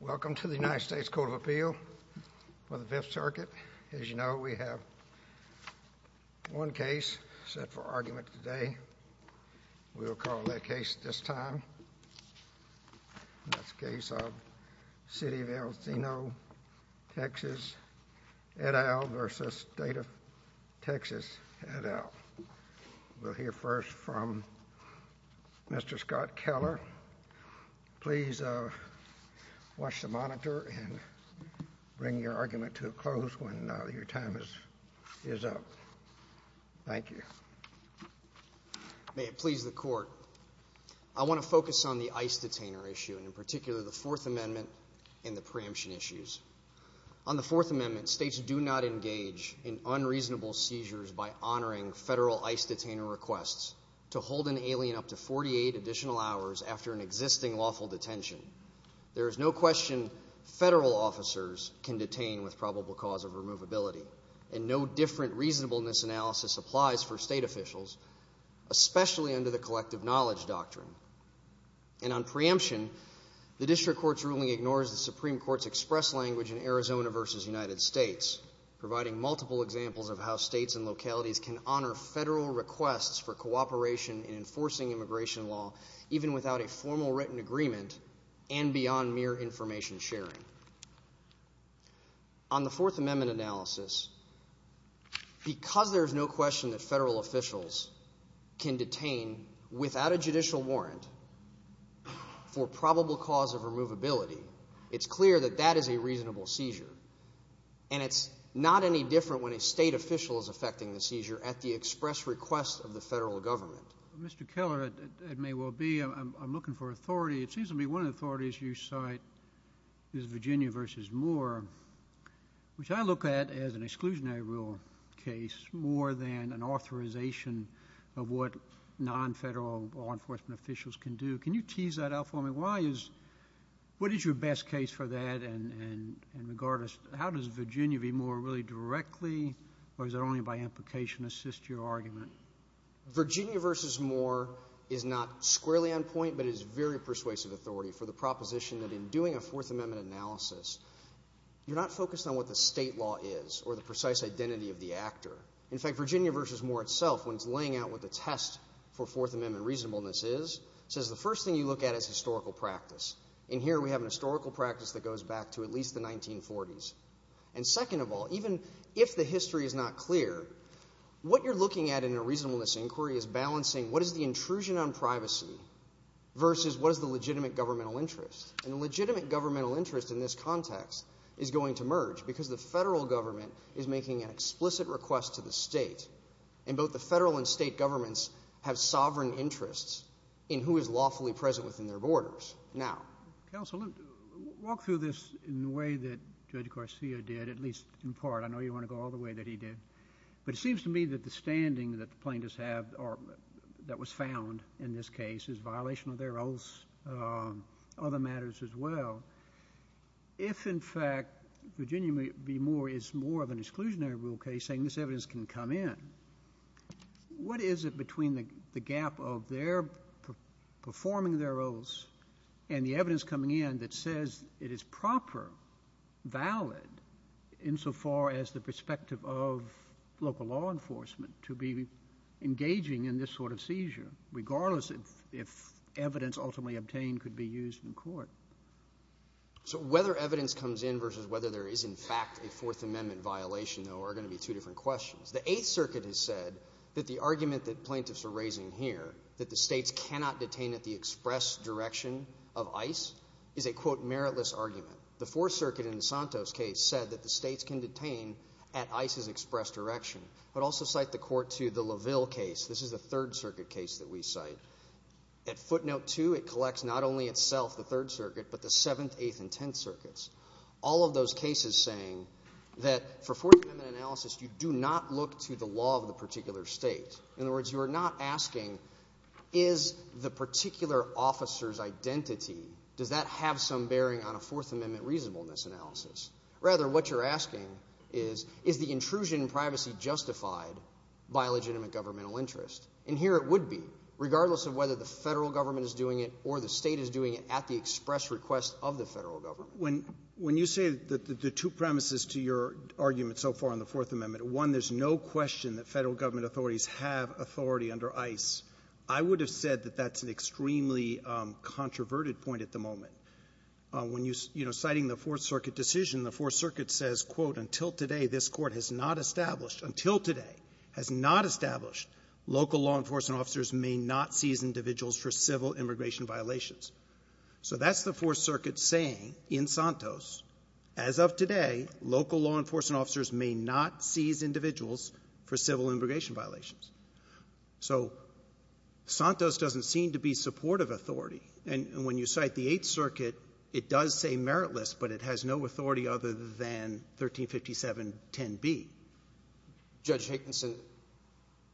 Welcome to the United States Court of Appeal for the Fifth Circuit. As you know, we have one case set for argument today. We will call that case at this time the case of City of El Cenizo, Texas, et al. v. State of Texas, et al. We'll hear first from Mr. Scott Keller. Please watch the monitor and bring your argument to a close when your time is up. Thank you. May it please the Court. I want to focus on the ICE detainer issue, and in particular the Fourth Amendment and the preemption issues. On the Fourth Amendment, states do not engage in unreasonable seizures by honoring federal ICE detainer requests to hold an alien up to 48 additional hours after an existing lawful detention. There is no question federal officers can detain with probable cause of removability, and no different reasonableness analysis applies for state officials, especially under the collective knowledge doctrine. And on preemption, the district court's ruling ignores the Supreme Court's express language in Arizona v. United States, providing multiple examples of how states and localities can honor federal requests for cooperation in enforcing immigration law, even without a formal written agreement and beyond mere information sharing. On the Fourth Amendment analysis, because there is no question that federal officials can detain without a judicial warrant for probable cause of removability, it's clear that that is a reasonable seizure, and it's not any different when a state official is affecting the seizure at the express request of the federal government. Mr. Keller, it may well be I'm looking for authority. It seems to me one of the authorities you cite is Virginia v. Moore, which I look at as an exclusionary rule case more than an authorization of what non-federal law enforcement officials can do. Can you tease that out for me? What is your best case for that, and how does Virginia v. Moore really directly, or is it only by implication, assist your argument? Virginia v. Moore is not squarely on point, but is very persuasive authority for the proposition that in doing a Fourth Amendment analysis, you're not focused on what the state law is or the precise identity of the actor. In fact, Virginia v. Moore itself, when it's laying out what the test for Fourth Amendment reasonableness is, says the first thing you look at is historical practice, and here we have a historical practice that goes back to at least the 1940s. And second of all, even if the history is not clear, what you're looking at in a reasonableness inquiry is balancing what is the intrusion on privacy versus what is the legitimate governmental interest. And the legitimate governmental interest in this context is going to merge because the federal government is making an explicit request to the state, and both the federal and state governments have sovereign interests in who is lawfully present within their borders. Counsel, walk through this in the way that Judge Garcia did, at least in part. I know you want to go all the way that he did. But it seems to me that the standing that the plaintiffs have, or that was found in this case, is violation of their oaths, other matters as well. If, in fact, Virginia v. Moore is more of an exclusionary rule case, saying this evidence can come in, what is it between the gap of their performing their oaths and the evidence coming in that says it is proper, valid, insofar as the perspective of local law enforcement to be engaging in this sort of seizure, regardless if evidence ultimately obtained could be used in court? So whether evidence comes in versus whether there is in fact a Fourth Amendment violation, though, are going to be two different questions. The Eighth Circuit has said that the argument that plaintiffs are raising here, that the states cannot detain at the express direction of ICE, is a, quote, meritless argument. The Fourth Circuit in Santos' case said that the states can detain at ICE's express direction, but also cite the court to the Laville case. This is a Third Circuit case that we cite. At footnote two, it collects not only itself, the Third Circuit, but the Seventh, Eighth, and Tenth Circuits. All of those cases saying that for Fourth Amendment analysis, you do not look to the law of the particular state. In other words, you are not asking, is the particular officer's identity, does that have some bearing on a Fourth Amendment reasonableness analysis? Rather, what you're asking is, is the intrusion in privacy justified by legitimate governmental interest? And here it would be, regardless of whether the federal government is doing it or the state is doing it at the express request of the federal government. When you say that the two premises to your argument so far on the Fourth Amendment, one, there's no question that federal government authorities have authority under ICE, I would have said that that's an extremely controverted point at the moment. When you're citing the Fourth Circuit decision, the Fourth Circuit says, quote, until today this court has not established, until today has not established, local law enforcement officers may not seize individuals for civil immigration violations. So that's the Fourth Circuit saying in Santos, as of today, local law enforcement officers may not seize individuals for civil immigration violations. So Santos doesn't seem to be supportive of authority. And when you cite the Eighth Circuit, it does say meritless, but it has no authority other than 135710B. Judge Hankinson,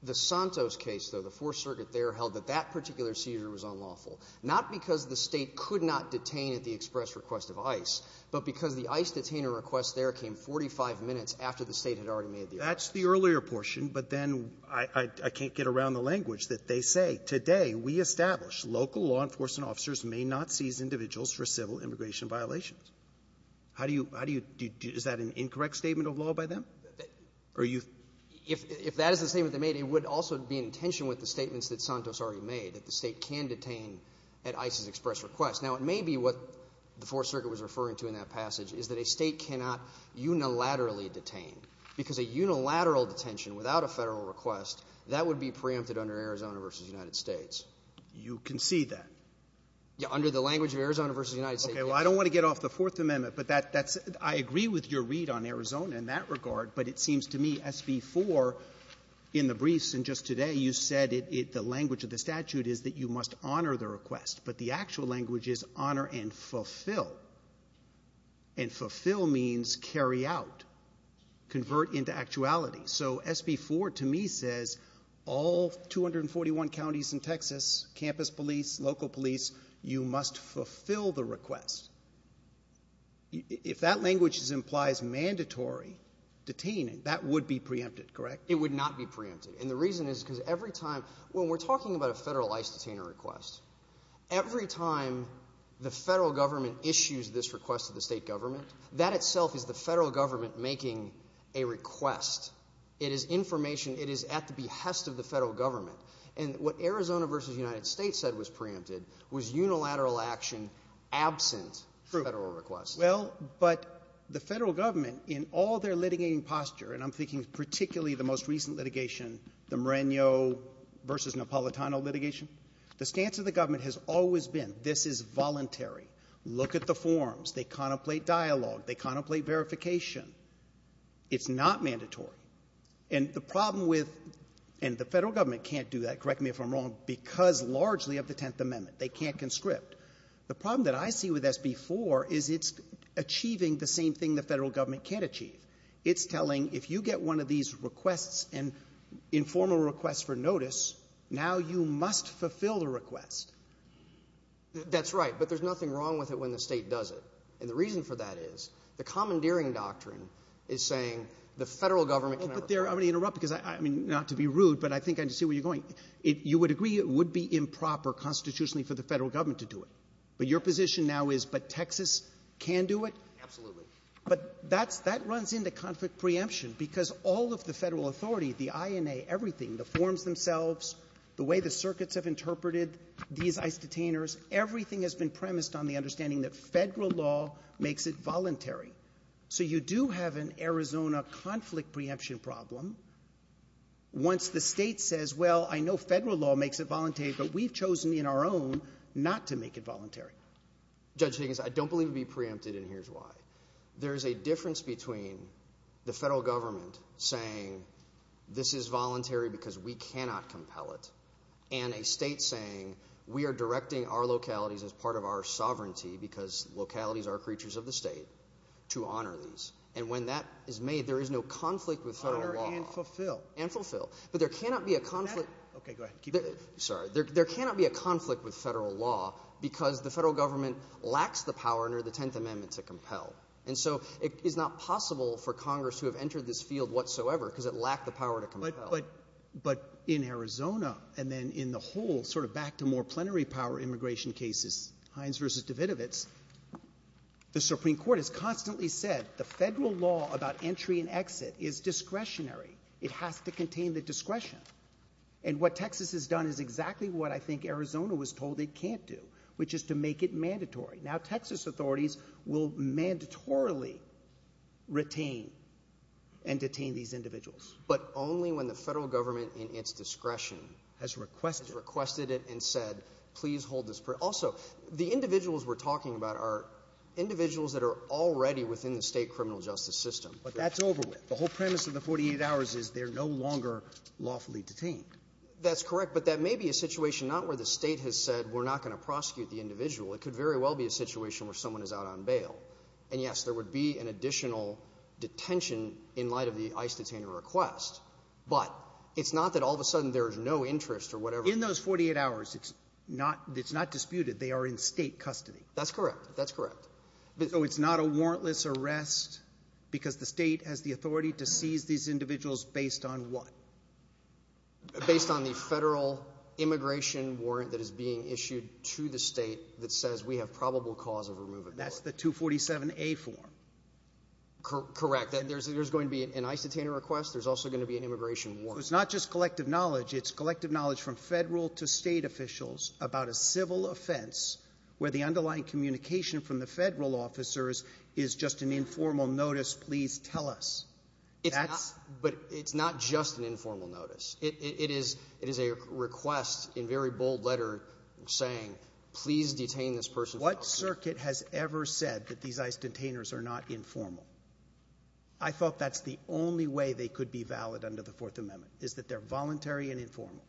the Santos case, the Fourth Circuit there held that that particular seizure was unlawful. Not because the state could not detain at the express request of ICE, but because the ICE detainer request there came 45 minutes after the state had already made the arrest. That's the earlier portion, but then I can't get around the language that they say, today we establish local law enforcement officers may not seize individuals for civil immigration violations. How do you, is that an incorrect statement of law by them? If that is the statement they made, it would also be in tension with the statements that Santos already made, that the state can detain at ICE's express request. Now it may be what the Fourth Circuit was referring to in that passage, is that a state cannot unilaterally detain. Because a unilateral detention without a federal request, that would be preempted under Arizona v. United States. You concede that? Yeah, under the language of Arizona v. United States. Okay, well I don't want to get off the Fourth Amendment, but that's, I agree with your read on Arizona in that regard, but it seems to me SV-4 in the briefs and just today, you said the language of the statute is that you must honor the request, but the actual language is honor and fulfill. And fulfill means carry out, convert into actuality. So SV-4 to me says all 241 counties in Texas, campus police, local police, you must fulfill the request. If that language implies mandatory detaining, that would be preempted, correct? It would not be preempted. And the reason is because every time, when we're talking about a federal ICE detainer request, every time the federal government issues this request to the state government, that itself is the federal government making a request. It is information, it is at the behest of the federal government. And what Arizona v. United States said was preempted was unilateral action absent federal request. Well, but the federal government in all their litigating posture, and I'm thinking particularly the most recent litigation, the Moreno v. Napolitano litigation, the stance of the government has always been this is voluntary. Look at the forms. They contemplate dialogue. They contemplate verification. It's not mandatory. And the problem with, and the federal government can't do that, correct me if I'm wrong, because largely of the Tenth Amendment. They can't conscript. The problem that I see with SB 4 is it's achieving the same thing the federal government can't achieve. It's telling if you get one of these requests and informal requests for notice, now you must fulfill the request. That's right. But there's nothing wrong with it when the state does it. And the reason for that is the commandeering doctrine is saying the federal government can't. I'm going to interrupt because, I mean, not to be rude, but I think I see where you're going. You would agree it would be improper constitutionally for the federal government to do it. But your position now is, but Texas can do it? Absolutely. But that runs into conflict preemption because all of the federal authority, the INA, everything, the forms themselves, the way the circuits have interpreted these isoteners, everything has been premised on the understanding that federal law makes it voluntary. So you do have an Arizona conflict preemption problem once the state says, well, I know federal law makes it voluntary, but we've chosen in our own not to make it voluntary. Judge Higgins, I don't believe it would be preempted, and here's why. There's a difference between the federal government saying this is voluntary because we cannot compel it and a state saying we are directing our localities as part of our sovereignty because localities are creatures of the state to honors. And when that is made, there is no conflict with federal law. Honor and fulfill. And fulfill. But there cannot be a conflict. Okay, go ahead. Sorry. There cannot be a conflict with federal law because the federal government lacks the power under the 10th Amendment to compel. And so it is not possible for Congress to have entered this field whatsoever because it lacked the power to compel. But in Arizona and then in the whole sort of back to more plenary power immigration cases, Hines versus Davidovitz, the Supreme Court has constantly said the federal law about entry and exit is discretionary. It has to contain the discretion. And what Texas has done is exactly what I think Arizona was told it can't do, which is to make it mandatory. Now Texas authorities will mandatorily retain and detain these individuals. But only when the federal government in its discretion has requested it and said please hold this. Also, the individuals we're talking about are individuals that are already within the state criminal justice system. But that's over with. The whole premise of the 48 hours is they're no longer lawfully detained. That's correct. But that may be a situation not where the state has said we're not going to prosecute the individual. And yes, there would be an additional detention in light of the ICE detainer request. But it's not that all of a sudden there is no interest or whatever. In those 48 hours, it's not disputed they are in state custody. That's correct. That's correct. So it's not a warrantless arrest because the state has the authority to seize these individuals based on what? Based on the federal immigration warrant that is being issued to the state that says we have probable cause of removal. That's the 247A form. Correct. There's going to be an ICE detainer request. There's also going to be an immigration warrant. It's not just collective knowledge. It's collective knowledge from federal to state officials about a civil offense where the underlying communication from the federal officers is just an informal notice, please tell us. But it's not just an informal notice. It is a request in very bold letter saying please detain this person. What circuit has ever said that these ICE detainers are not informal? I thought that's the only way they could be valid under the Fourth Amendment is that they're voluntary and informal.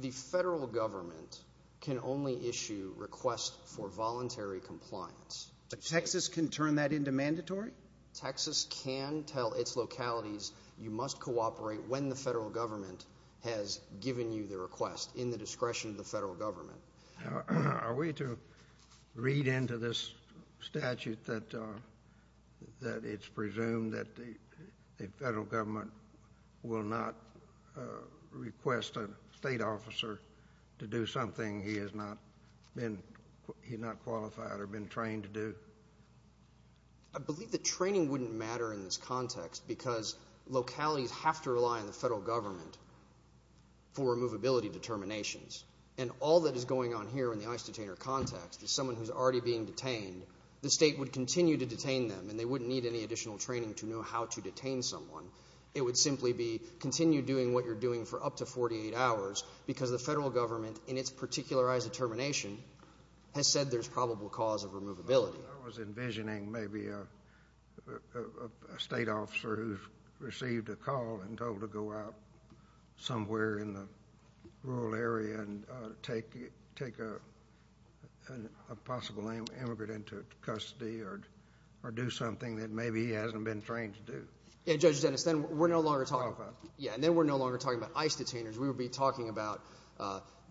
The federal government can only issue requests for voluntary compliance. But Texas can turn that into mandatory? Texas can tell its localities you must cooperate when the federal government has given you the request in the discretion of the federal government. Are we to read into this statute that it's presumed that the federal government will not request a state officer to do something he has not qualified or been trained to do? I believe that training wouldn't matter in this context because localities have to rely on the federal government for removability determinations. And all that is going on here in the ICE detainer context is someone who's already being detained. The state would continue to detain them and they wouldn't need any additional training to know how to detain someone. It would simply be continue doing what you're doing for up to 48 hours because the federal government in its particularized determination has said there's probable cause of removability. I was envisioning maybe a state officer who's received a call and told to go out somewhere in the rural area and take a possible immigrant into custody or do something that maybe he hasn't been trained to do. Yeah, Judge Dennis, then we're no longer talking about ICE detainers. We would be talking about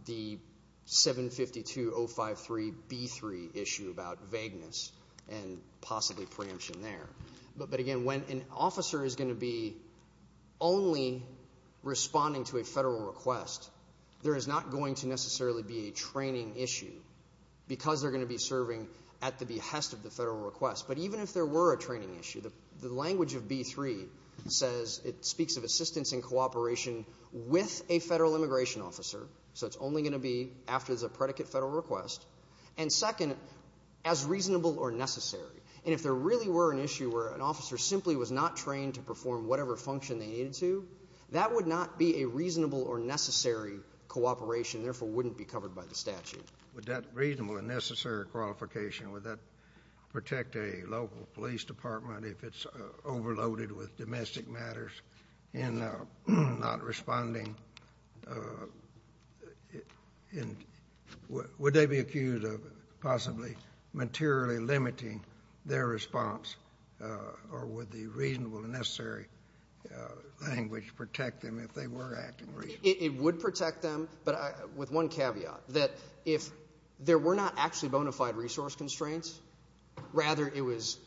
the 752053B3 issue about vagueness and possibly preemption there. But again, when an officer is going to be only responding to a federal request, there is not going to necessarily be a training issue because they're going to be serving at the behest of the federal request. But even if there were a training issue, the language of B3 says it speaks of assistance and cooperation with a federal immigration officer. So it's only going to be after the predicate federal request. And second, as reasonable or necessary. And if there really were an issue where an officer simply was not trained to perform whatever function they needed to, that would not be a reasonable or necessary cooperation and therefore wouldn't be covered by the statute. Would that reasonable and necessary qualification, would that protect a local police department if it's overloaded with domestic matters and not responding? Would they be accused of possibly materially limiting their response, or would the reasonable and necessary language protect them if they were acting reasonably? It would protect them, but with one caveat, that if there were not actually bona fide resource constraints, rather it was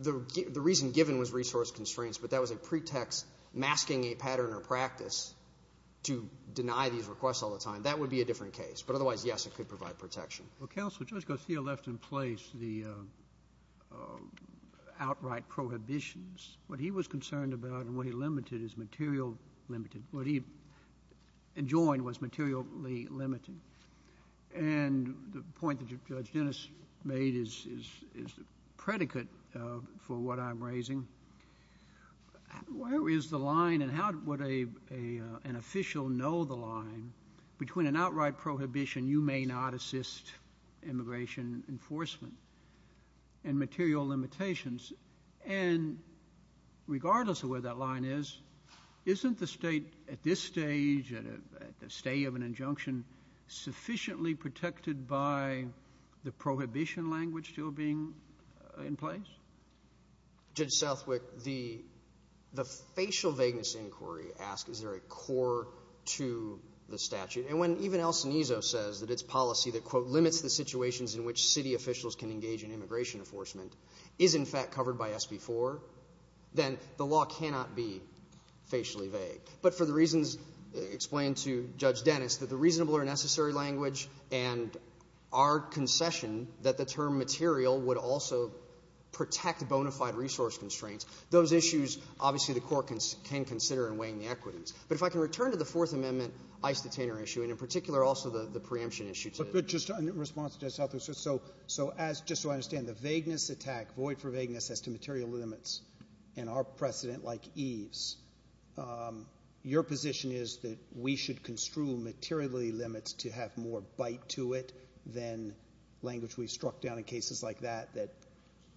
the reason given was resource constraints, but that was a pretext masking a pattern or practice to deny these requests all the time. That would be a different case. But otherwise, yes, it could provide protection. Well, Counselor, Judge Garcia left in place the outright prohibitions. What he was concerned about and what he limited is material limiting. What he enjoined was materially limiting. And the point that Judge Dennis made is predicate for what I'm raising. Where is the line and how would an official know the line between an outright prohibition, you may not assist immigration enforcement, and material limitations? And regardless of where that line is, isn't the state at this stage and at the stage of an injunction sufficiently protected by the prohibition language still being in place? Judge Southwick, the facial vagueness inquiry asks, is there a core to the statute? And when even El Cenizo says that its policy that, quote, then the law cannot be facially vague. But for the reasons explained to Judge Dennis, that the reasonable or necessary language and our concession that the term material would also protect bona fide resource constraints, those issues obviously the court can consider in weighing the equities. But if I can return to the Fourth Amendment ICE detainer issue, and in particular also the preemption issue. But just in response to Judge Southwick, so just so I understand, the vagueness attack, void for vagueness as to material limits, and our precedent like ease, your position is that we should construe materiality limits to have more bite to it than language we've struck down in cases like that, that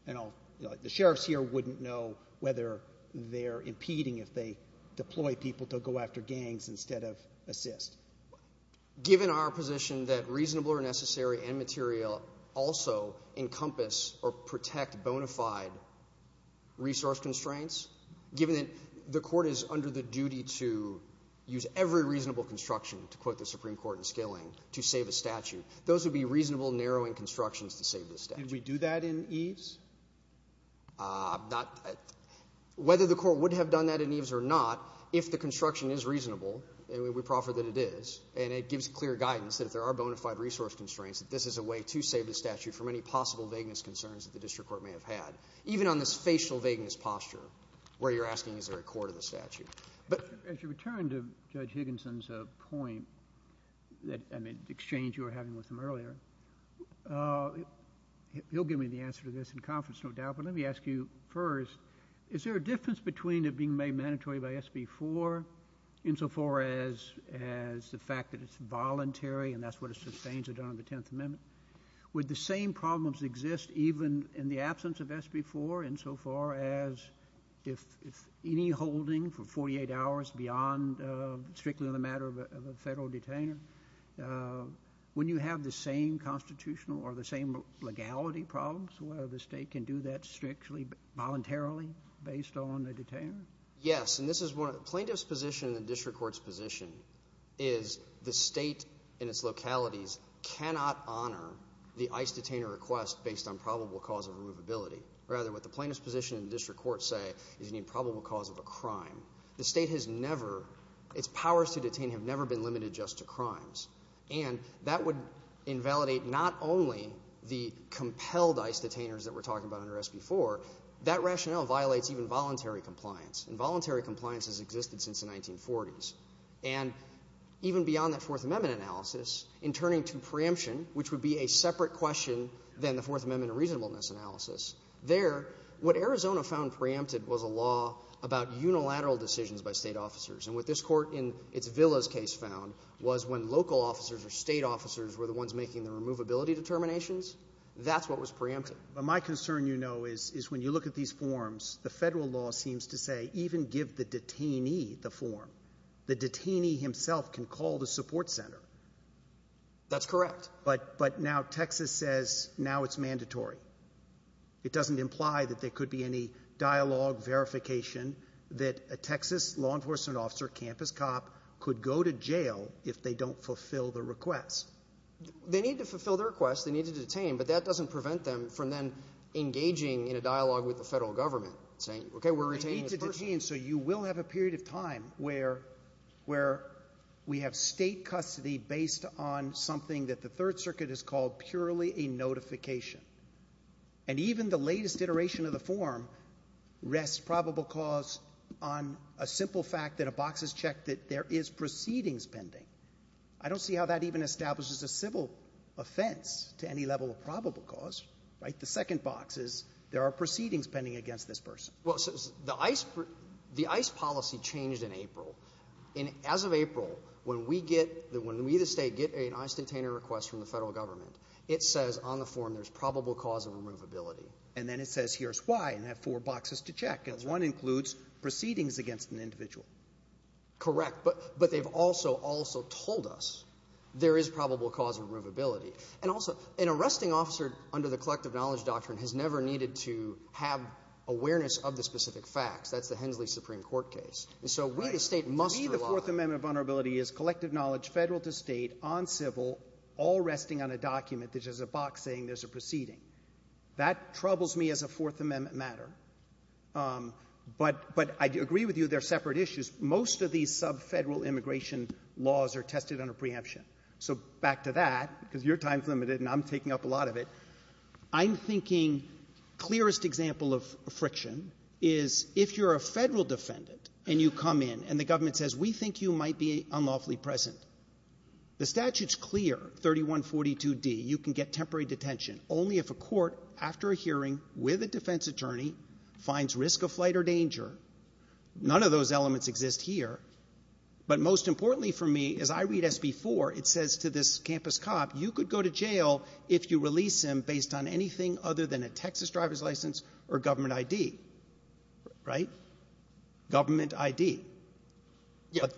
the sheriffs here wouldn't know whether they're impeding if they deploy people to go after gangs instead of assist. Given our position that reasonable or necessary and material also encompass or protect bona fide resource constraints, given that the court is under the duty to use every reasonable construction, to quote the Supreme Court in scaling, to save a statute, those would be reasonable narrowing constructions to save the statute. Did we do that in ease? Whether the court would have done that in ease or not, if the construction is reasonable, and we proffer that it is, and it gives clear guidance that there are bona fide resource constraints, that this is a way to save the statute from any possible vagueness concerns that the district court may have had. Even on the spatial vagueness posture, where you're asking is there a court of the statute. But as you return to Judge Higginson's point, and the exchange you were having with him earlier, he'll give me the answer to this in conference, no doubt, but let me ask you first, is there a difference between it being made mandatory by SB 4, insofar as the fact that it's voluntary, and that's what sustains it under the 10th Amendment? Would the same problems exist even in the absence of SB 4, insofar as if any holding for 48 hours beyond strictly the matter of a federal detainee? When you have the same constitutional or the same legality problems, well, the state can do that strictly voluntarily, based on the detainee? Yes, and this is what plaintiff's position and the district court's position is, the state in its localities cannot honor the ICE detainee request based on probable cause of elusibility. Rather, what the plaintiff's position and the district court say is the probable cause of a crime. The state has never, its powers to detain have never been limited just to crimes, and that would invalidate not only the compelled ICE detainers that we're talking about under SB 4, that rationale violates even voluntary compliance, and voluntary compliance has existed since the 1940s. And even beyond the Fourth Amendment analysis, in turning to preemption, which would be a separate question than the Fourth Amendment reasonableness analysis, there, what Arizona found preempted was a law about unilateral decisions by state officers, and what this court in its Villas case found was when local officers or state officers were the ones making the removability determinations, that's what was preempted. My concern, you know, is when you look at these forms, the federal law seems to say even give the detainee the form. The detainee himself can call the support center. That's correct. But now Texas says now it's mandatory. It doesn't imply that there could be any dialogue, verification, that a Texas law enforcement officer, campus cop, could go to jail if they don't fulfill the request. They need to fulfill their request. They need to detain, but that doesn't prevent them from then engaging in a dialogue with the federal government, saying, okay, we're retaining this person. So you will have a period of time where we have state custody based on something that the Third Circuit has called purely a notification. And even the latest iteration of the form rests probable cause on a simple fact that a box is checked that there is proceedings pending. I don't see how that even establishes a civil offense to any level of probable cause, right? The second box is there are proceedings pending against this person. Well, the ICE policy changed in April. And as of April, when we get, when we, the state, get an ICE detainee request from the federal government, it says on the form there's probable cause of removability. And then it says here's why, and that four boxes to check. One includes proceedings against an individual. Correct, but they've also, also told us there is probable cause of removability. And also, an arresting officer under the collective knowledge doctrine has never needed to have awareness of the specific facts. That's the Hensley Supreme Court case. And so we, the state, must rely... To me, the Fourth Amendment of vulnerability is collective knowledge, federal to state, on civil, all resting on a document that has a box saying there's a proceeding. That troubles me as a Fourth Amendment matter. But I agree with you, they're separate issues. Most of these subfederal immigration laws are tested under preemption. So back to that, because your time's limited and I'm taking up a lot of it. I'm thinking clearest example of friction is if you're a federal defendant and you come in and the government says, we think you might be unlawfully present. The statute's clear, 3142D, you can get temporary detention only if a court, after a hearing with a defense attorney, finds risk of flight or danger. None of those elements exist here. But most importantly for me, as I read SB4, it says to this campus cop, you could go to jail if you release him based on anything other than a Texas driver's license or government ID. Right? Government ID.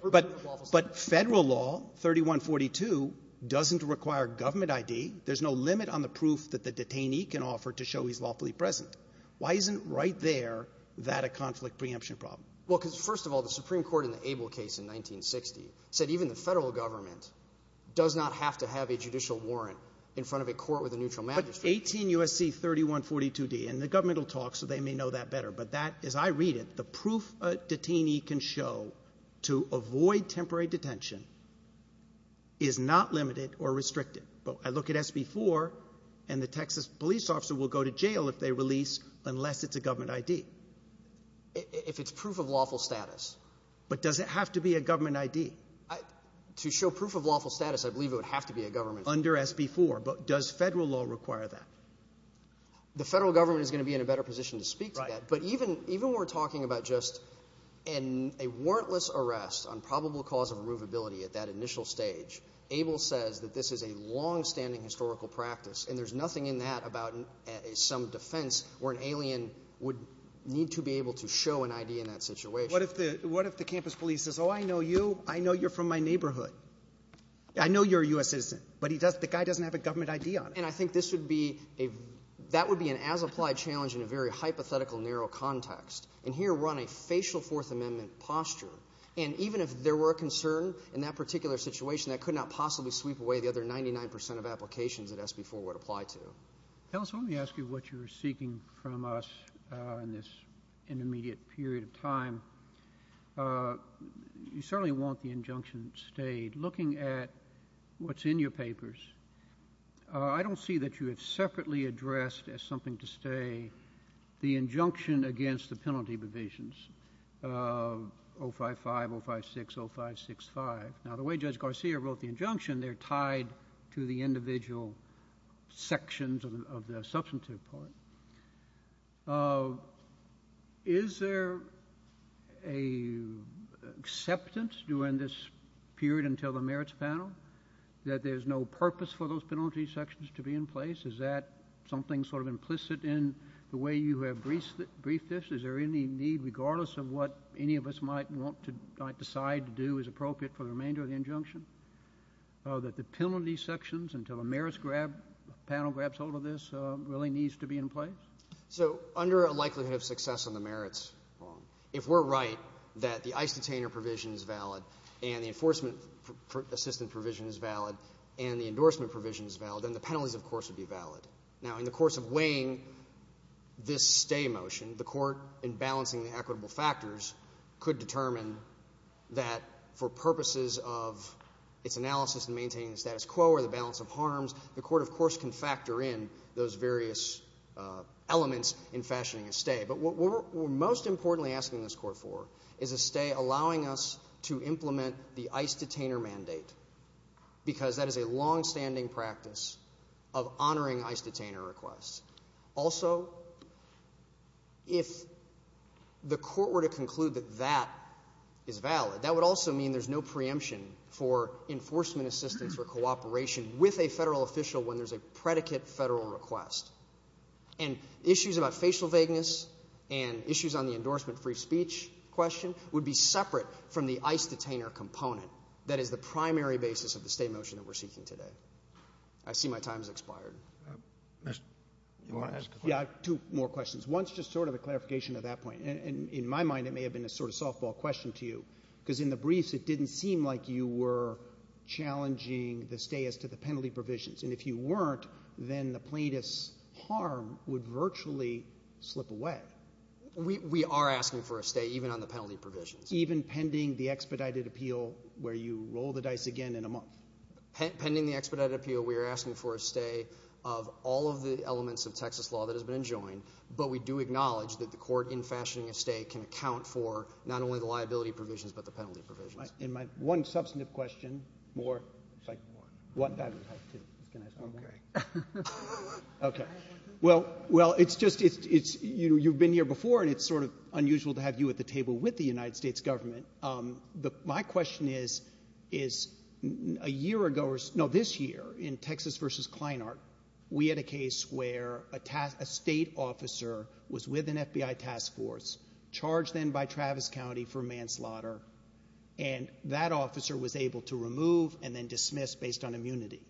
But federal law, 3142, doesn't require government ID. There's no limit on the proof that the detainee can offer to show he's lawfully present. Why isn't right there that a conflict preemption problem? Well, because first of all, the Supreme Court in the Abel case in 1960 said even the federal government does not have to have a judicial warrant in front of a court with a neutral magistrate. But 18 U.S.C. 3142D, and the government will talk so they may know that better, but that, as I read it, the proof a detainee can show to avoid temporary detention is not limited or restricted. But I look at SB4, and the Texas police officer will go to jail if they release, unless it's a government ID. If it's proof of lawful status. But does it have to be a government ID? To show proof of lawful status, I believe it would have to be a government ID. Under SB4, but does federal law require that? The federal government is going to be in a better position to speak about that, but even when we're talking about just a warrantless arrest on probable cause of irrevability at that initial stage, Abel says that this is a long-standing historical practice, and there's nothing in that about some defense where an alien would need to be able to show an ID in that situation. What if the campus police says, Oh, I know you. I know you're from my neighborhood. I know you're a U.S. citizen. But the guy doesn't have a government ID on him. And I think that would be an as-applied challenge in a very hypothetical, narrow context. And here we're on a facial Fourth Amendment posture. And even if there were a concern in that particular situation, I could not possibly sweep away the other 99% of applications that SB4 would apply to. Ellis, let me ask you what you're seeking from us in this intermediate period of time. You certainly want the injunction stayed. Looking at what's in your papers, I don't see that you have separately addressed as something to stay the injunction against the penalty provisions of 055, 056, 0565. Now, the way Judge Garcia wrote the injunction, they're tied to the individual sections of the substantive part. Is there an acceptance during this period until the merits panel that there's no purpose for those penalty sections to be in place? Is that something sort of implicit in the way you have briefed this? Is there any need, regardless of what any of us might decide to do is appropriate for the remainder of the injunction, that the penalty sections until the merits panel grabs hold of this really needs to be in place? So under a likelihood of success on the merits, if we're right that the ICE detainer provision is valid and the enforcement assistance provision is valid and the endorsement provision is valid, then the penalties, of course, would be valid. Now, in the course of weighing this stay motion, the court, in balancing the equitable factors, could determine that for purposes of its analysis and maintaining the status quo or the balance of harms, the court, of course, can factor in those various elements in fashioning a stay. But what we're most importantly asking this court for is a stay allowing us to implement the ICE detainer mandate because that is a long-standing practice of honoring ICE detainer requests. Also, if the court were to conclude that that is valid, that would also mean there's no preemption for enforcement assistance or cooperation with a federal official when there's a predicate federal request. And issues about facial vagueness and issues on the endorsement free speech question would be separate from the ICE detainer component that is the primary basis of the stay motion that we're seeking today. I see my time has expired. Yeah, two more questions. One's just sort of a clarification of that point. In my mind, it may have been a sort of softball question to you because in the briefs, it didn't seem like you were challenging the stay as to the penalty provisions. And if you weren't, then the plaintiff's harm would virtually slip away. We are asking for a stay, even on the penalty provisions. Even pending the expedited appeal where you roll the dice again in a month? Pending the expedited appeal, we are asking for a stay of all of the elements of Texas law that has been joined. But we do acknowledge that the court, in fashioning a stay, can account for not only the liability provisions but the penalty provisions. One substantive question more. Okay. Well, it's just you've been here before and it's sort of unusual to have you at the table with the United States government. My question is, a year ago... No, this year, in Texas v. Kleinart, we had a case where a state officer was with an FBI task force, charged then by Travis County for manslaughter, and that officer was able to remove and then dismiss based on immunity.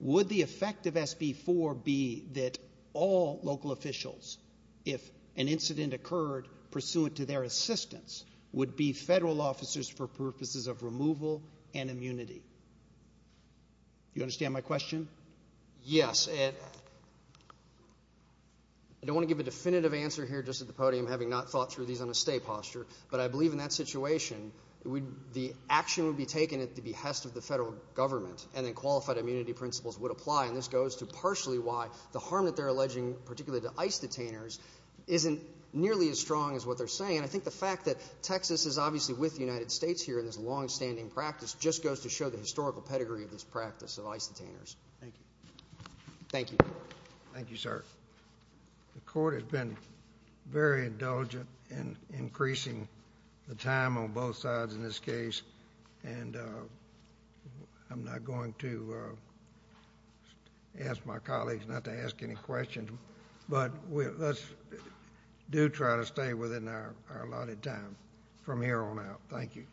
Would the effect of SB 4 be that all local officials, if an incident occurred pursuant to their assistance, would be federal officers for purposes of removal and immunity? You understand my question? Yes. I don't want to give a definitive answer here just at the podium, having not thought through these on a stay posture, but I believe in that situation, the action would be taken at the behest of the federal government and in qualified immunity principles would apply. And this goes to partially why the harm that they're alleging, particularly to ICE detainers, isn't nearly as strong as what they're saying. I think the fact that Texas is obviously with the United States here in this long-standing practice just goes to show the historical pedigree of this practice of ICE detainers. Thank you. Thank you. Thank you, sir. The court has been very indulgent in increasing the time on both sides in this case, and I'm not going to ask my colleagues not to ask any questions, but let's do try to stay within our allotted time from here on out. Thank you.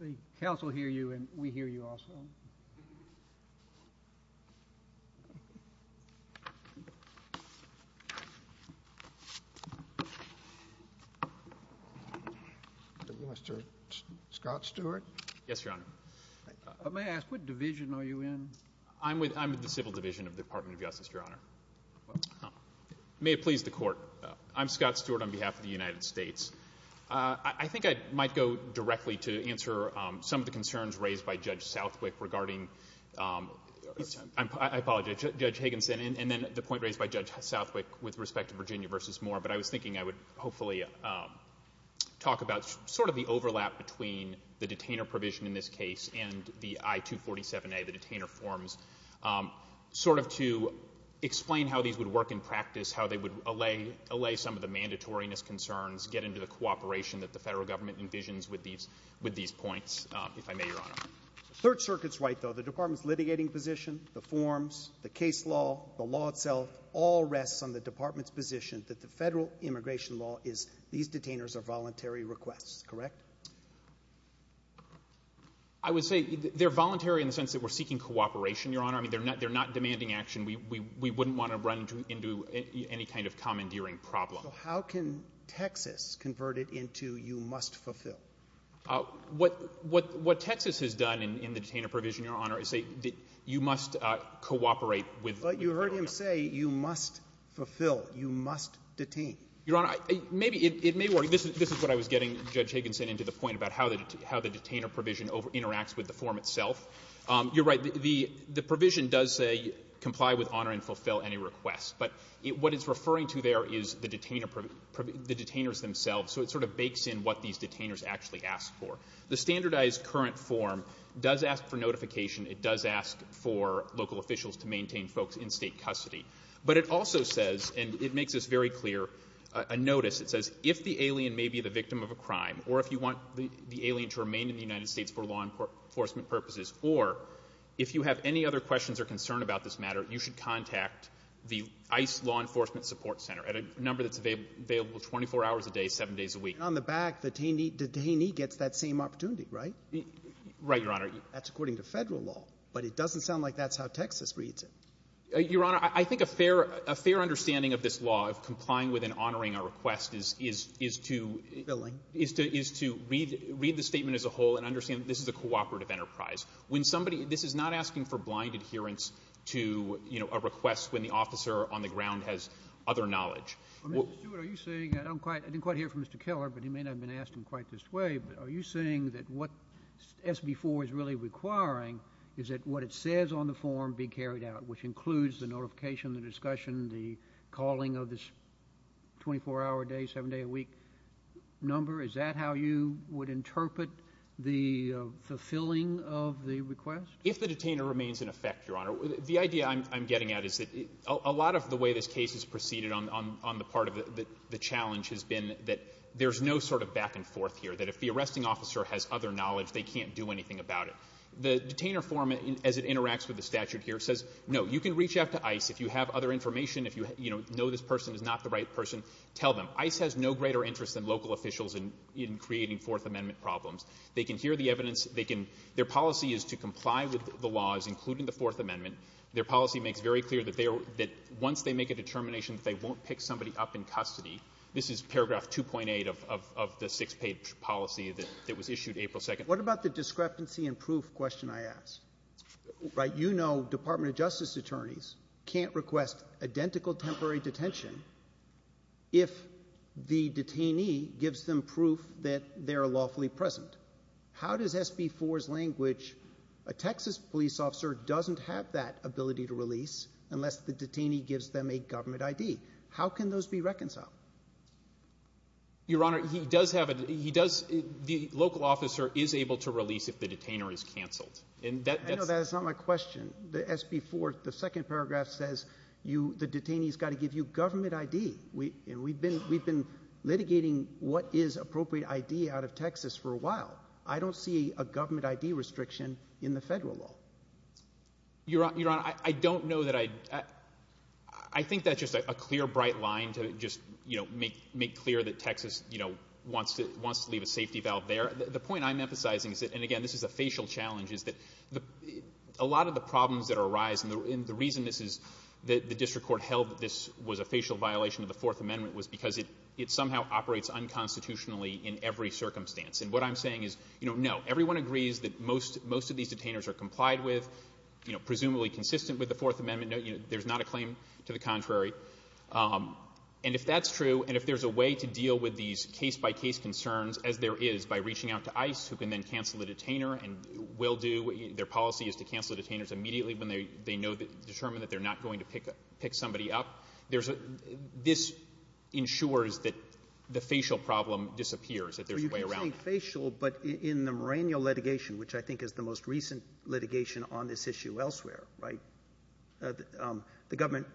The House will hear you, and we hear you also. Scott Stewart? Yes, Your Honor. May I ask what division are you in? I'm with the Civil Division of the Department of Justice, Your Honor. May it please the Court. I'm Scott Stewart on behalf of the United States. I think I might go directly to answer some of the concerns raised by Judge Southwick regarding... I apologize, Judge Higginson, and then the point raised by Judge Southwick with respect to Virginia v. Moore, but I was thinking I would hopefully talk about sort of the overlap between the detainer provision in this case and the I-247A, the detainer forms, sort of to explain how these would work in practice, how they would allay some of the mandatoriness concerns, get into the cooperation that the federal government envisions with these points, if I may, Your Honor. The Third Circuit's right, though. The Department's litigating position, the forms, the case law, the law itself all rests on the Department's position that the federal immigration law is these detainers are voluntary requests. Correct? I would say they're voluntary in the sense that we're seeking cooperation and, Your Honor, they're not demanding action. We wouldn't want to run into any kind of commandeering problem. How can Texas convert it into you must fulfill? What Texas has done in the detainer provision, Your Honor, is say you must cooperate with... But you heard him say you must fulfill, you must detain. Your Honor, it may work. This is what I was getting, Judge Higginson, into the point about how the detainer provision interacts with the form itself. You're right. The provision does say comply with, honor, and fulfill any requests. But what it's referring to there is the detainers themselves, so it sort of bakes in what these detainers actually ask for. The standardized current form does ask for notification. It does ask for local officials to maintain folks in state custody. But it also says, and it makes this very clear, a notice. It says if the alien may be the victim of a crime or if you want the alien to remain in the United States for law enforcement purposes, or if you have any other questions or concern about this matter, you should contact the ICE Law Enforcement Support Center at a number that's available 24 hours a day, 7 days a week. And on the back, the detainee gets that same opportunity, right? Right, Your Honor. That's according to federal law, but it doesn't sound like that's how Texas reads it. Your Honor, I think a fair understanding of this law of complying with and honoring a request is to... Filling. ...is to read the statement as a whole and understand that this is a cooperative enterprise. When somebody... This is not asking for blind adherence to, you know, a request when the officer on the ground has other knowledge. Mr. Stewart, are you saying... I didn't quite hear from Mr. Keller, but he may not have been asked in quite this way, but are you saying that what SB 4 is really requiring is that what it says on the form be carried out, which includes the notification, the discussion, the calling of this 24-hour-a-day, 7-day-a-week number? Is that how you would interpret the filling of the request? If the detainer remains in effect, Your Honor. The idea I'm getting at is that a lot of the way this case has proceeded on the part of the challenge has been that there's no sort of back-and-forth here, that if the arresting officer has other knowledge, they can't do anything about it. The detainer form, as it interacts with the statute here, says, no, you can reach out to ICE if you have other information, if you know this person is not the right person, tell them. ICE has no greater interest than local officials in creating Fourth Amendment problems. They can hear the evidence. Their policy is to comply with the laws, including the Fourth Amendment. Their policy makes very clear that once they make a determination, they won't pick somebody up in custody. This is paragraph 2.8 of the six-page policy that was issued April 2nd. What about the discrepancy in proof question I asked? You know Department of Justice attorneys can't request identical temporary detention if the detainee gives them proof that they're lawfully present. How does SB 4's language, a Texas police officer doesn't have that ability to release unless the detainee gives them a government ID? How can those be reconciled? Your Honor, he does have a... The local officer is able to release if the detainer is canceled. I know that's not my question. The SB 4, the second paragraph, says the detainee's got to give you government ID. We've been litigating what is appropriate ID out of Texas for a while. I don't see a government ID restriction in the federal law. Your Honor, I don't know that I... I think that's just a clear, bright line to just make clear that Texas wants to leave a safety valve there. The point I'm emphasizing, and again this is a facial challenge, is that a lot of the problems that arise, and the reason the district court held that this was a facial violation of the Fourth Amendment was because it somehow operates unconstitutionally in every circumstance. And what I'm saying is, no, everyone agrees that most of these detainers are complied with, presumably consistent with the Fourth Amendment. There's not a claim to the contrary. And if that's true, and if there's a way to deal with these case-by-case concerns, as there is by reaching out to ICE, who can then cancel the detainer and will do. Their policy is to cancel the detainers immediately when they determine that they're not going to pick somebody up. This ensures that the facial problem disappears, that there's a way around that. Well, you can say facial, but in the merenial litigation, which I think is the most recent litigation on this issue elsewhere, right, the government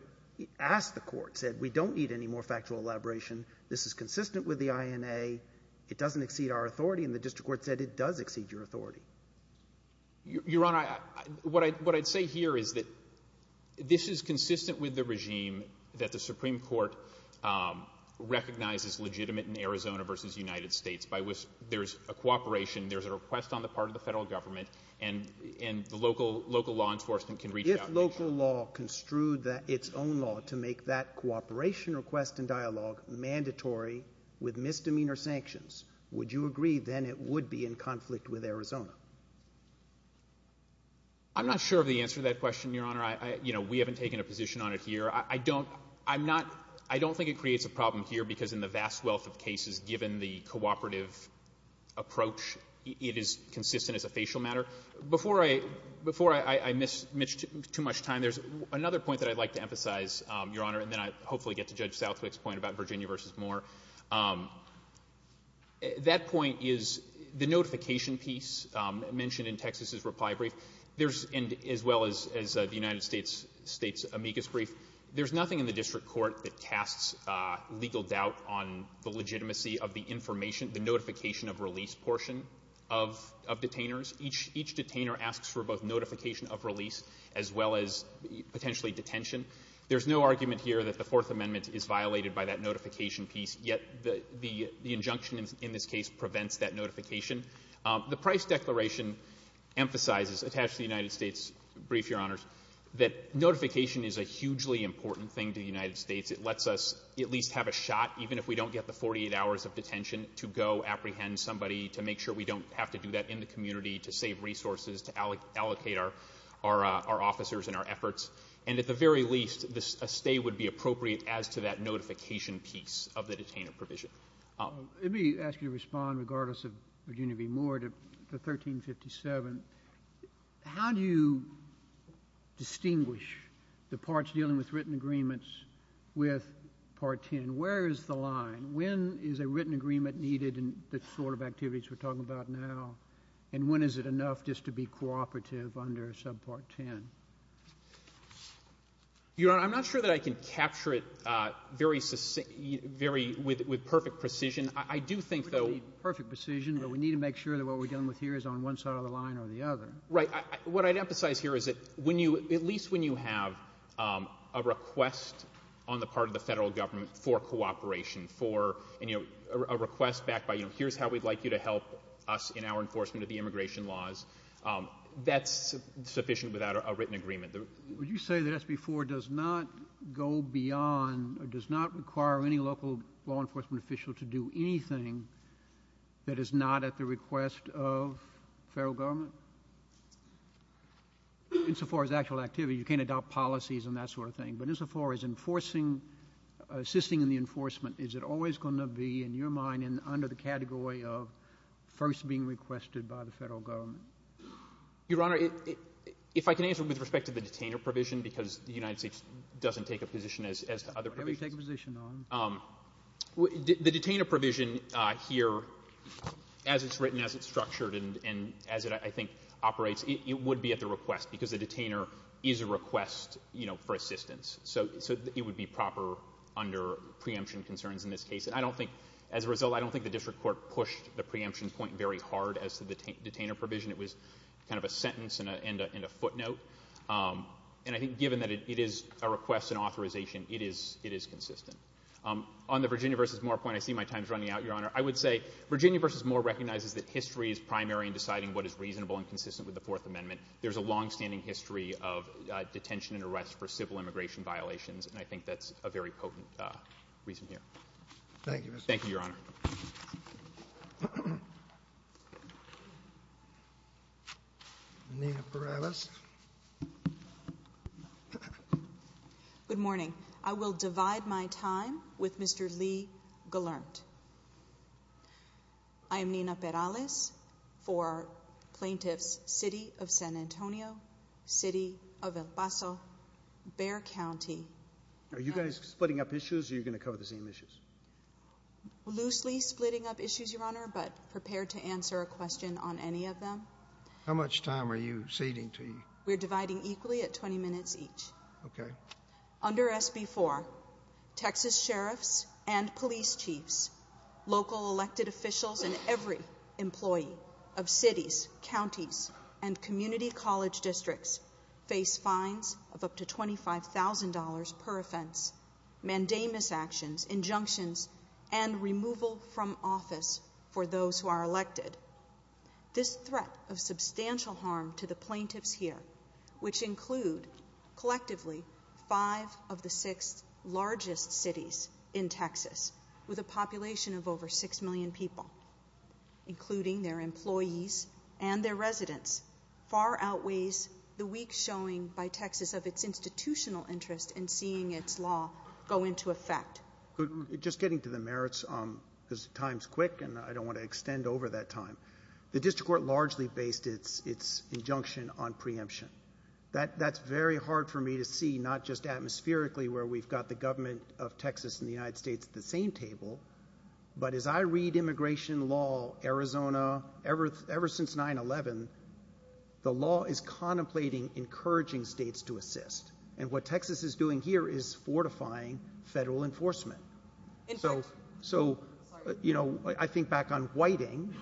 asked the court, said we don't need any more factual elaboration, this is consistent with the INA, it doesn't exceed our authority, and the district court said it does exceed your authority. Your Honor, what I'd say here is that this is consistent with the regime that the Supreme Court recognizes legitimate in Arizona versus the United States, by which there's a cooperation, there's a request on the part of the federal government, and the local law enforcement can reach out. If local law construed its own law to make that cooperation request and dialogue mandatory with misdemeanor sanctions, would you agree then it would be in conflict with Arizona? I'm not sure of the answer to that question, Your Honor. You know, we haven't taken a position on it here. I don't think it creates a problem here because in the vast wealth of cases, given the cooperative approach, it is consistent as a facial matter. Before I miss too much time, there's another point that I'd like to emphasize, Your Honor, and then I hopefully get to Judge Southwick's point about Virginia versus Moore. That point is the notification piece mentioned in Texas' reply brief, as well as the United States' amicus brief. There's nothing in the district court that casts legal doubt on the legitimacy of the information, the notification of release portion of detainers. Each detainer asks for both notification of release as well as potentially detention. There's no argument here that the Fourth Amendment is violated by that notification piece yet the injunction in this case prevents that notification. The Price Declaration emphasizes, attached to the United States' brief, Your Honors, that notification is a hugely important thing to the United States. It lets us at least have a shot, even if we don't get the 48 hours of detention, to go apprehend somebody, to make sure we don't have to do that in the community, to save resources, to allocate our officers and our efforts. And at the very least, a stay would be appropriate as to that notification piece of the detainer provision. Let me ask you to respond, regardless of Virginia v. Moore, to 1357. How do you distinguish the parts dealing with written agreements with Part 10? Where is the line? When is a written agreement needed in the sort of activities we're talking about now? And when is it enough just to be cooperative under subpart 10? Your Honor, I'm not sure that I can capture it with perfect precision. I do think, though... Perfect precision, but we need to make sure that what we're dealing with here is on one side of the line or the other. Right. What I'd emphasize here is that, at least when you have a request on the part of the federal government for cooperation, a request backed by, you know, here's how we'd like you to help us in our enforcement of the immigration laws, that's sufficient without a written agreement. Would you say that SB 4 does not go beyond or does not require any local law enforcement official to do anything that is not at the request of the federal government? Insofar as actual activity, you can't adopt policies and that sort of thing, but insofar as enforcing, assisting in the enforcement, is it always going to be, in your mind, under the category of first being requested by the federal government? Your Honor, if I can answer with respect to the detainer provision, because the United States doesn't take a position as the other provision. Why don't you take a position, then? The detainer provision here, as it's written, as it's structured, and as it, I think, operates, it would be at the request, because the detainer is a request, you know, for assistance. So it would be proper under preemption concerns in this case. I don't think, as a result, I don't think the district court pushed the preemption point very hard as to the detainer provision. It was kind of a sentence and a footnote. And I think, given that it is a request and authorization, it is consistent. On the Virginia v. Moore point, I see my time's running out, Your Honor. I would say Virginia v. Moore recognizes that history is primary in deciding what is reasonable and consistent with the Fourth Amendment. There's a longstanding history of detention and arrest for civil immigration violations, and I think that's a very potent reason here. Thank you. Thank you, Your Honor. Nina Perales. Good morning. I will divide my time with Mr. Lee Gallant. I am Nina Perales for plaintiff's City of San Antonio, City of El Paso, Bexar County. Are you guys splitting up issues or are you going to cover the same issues? Loosely splitting up issues, Your Honor, but prepared to answer a question on any of them. How much time are you ceding to me? We're dividing equally at 20 minutes each. Okay. Under SB 4, Texas sheriffs and police chiefs, local elected officials, and every employee of cities, counties, and community college districts face fines of up to $25,000 per offense, mandamus actions, injunctions, and removal from office for those who are elected. This is a threat of substantial harm to the plaintiffs here, which includes, collectively, five of the six largest cities in Texas with a population of over 6 million people, including their employees and their residents. Far outweighs the weak showing by Texas of its institutional interest in seeing its law go into effect. Just getting to the merits, because time's quick and I don't want to extend over that time. The district court largely based its injunction on preemption. That's very hard for me to see, not just atmospherically, where we've got the government of Texas and the United States at the same table, but as I read immigration law, Arizona, ever since 9-11, the law is contemplating encouraging states to assist. And what Texas is doing here is fortifying federal enforcement. So, you know, I think back on whiting,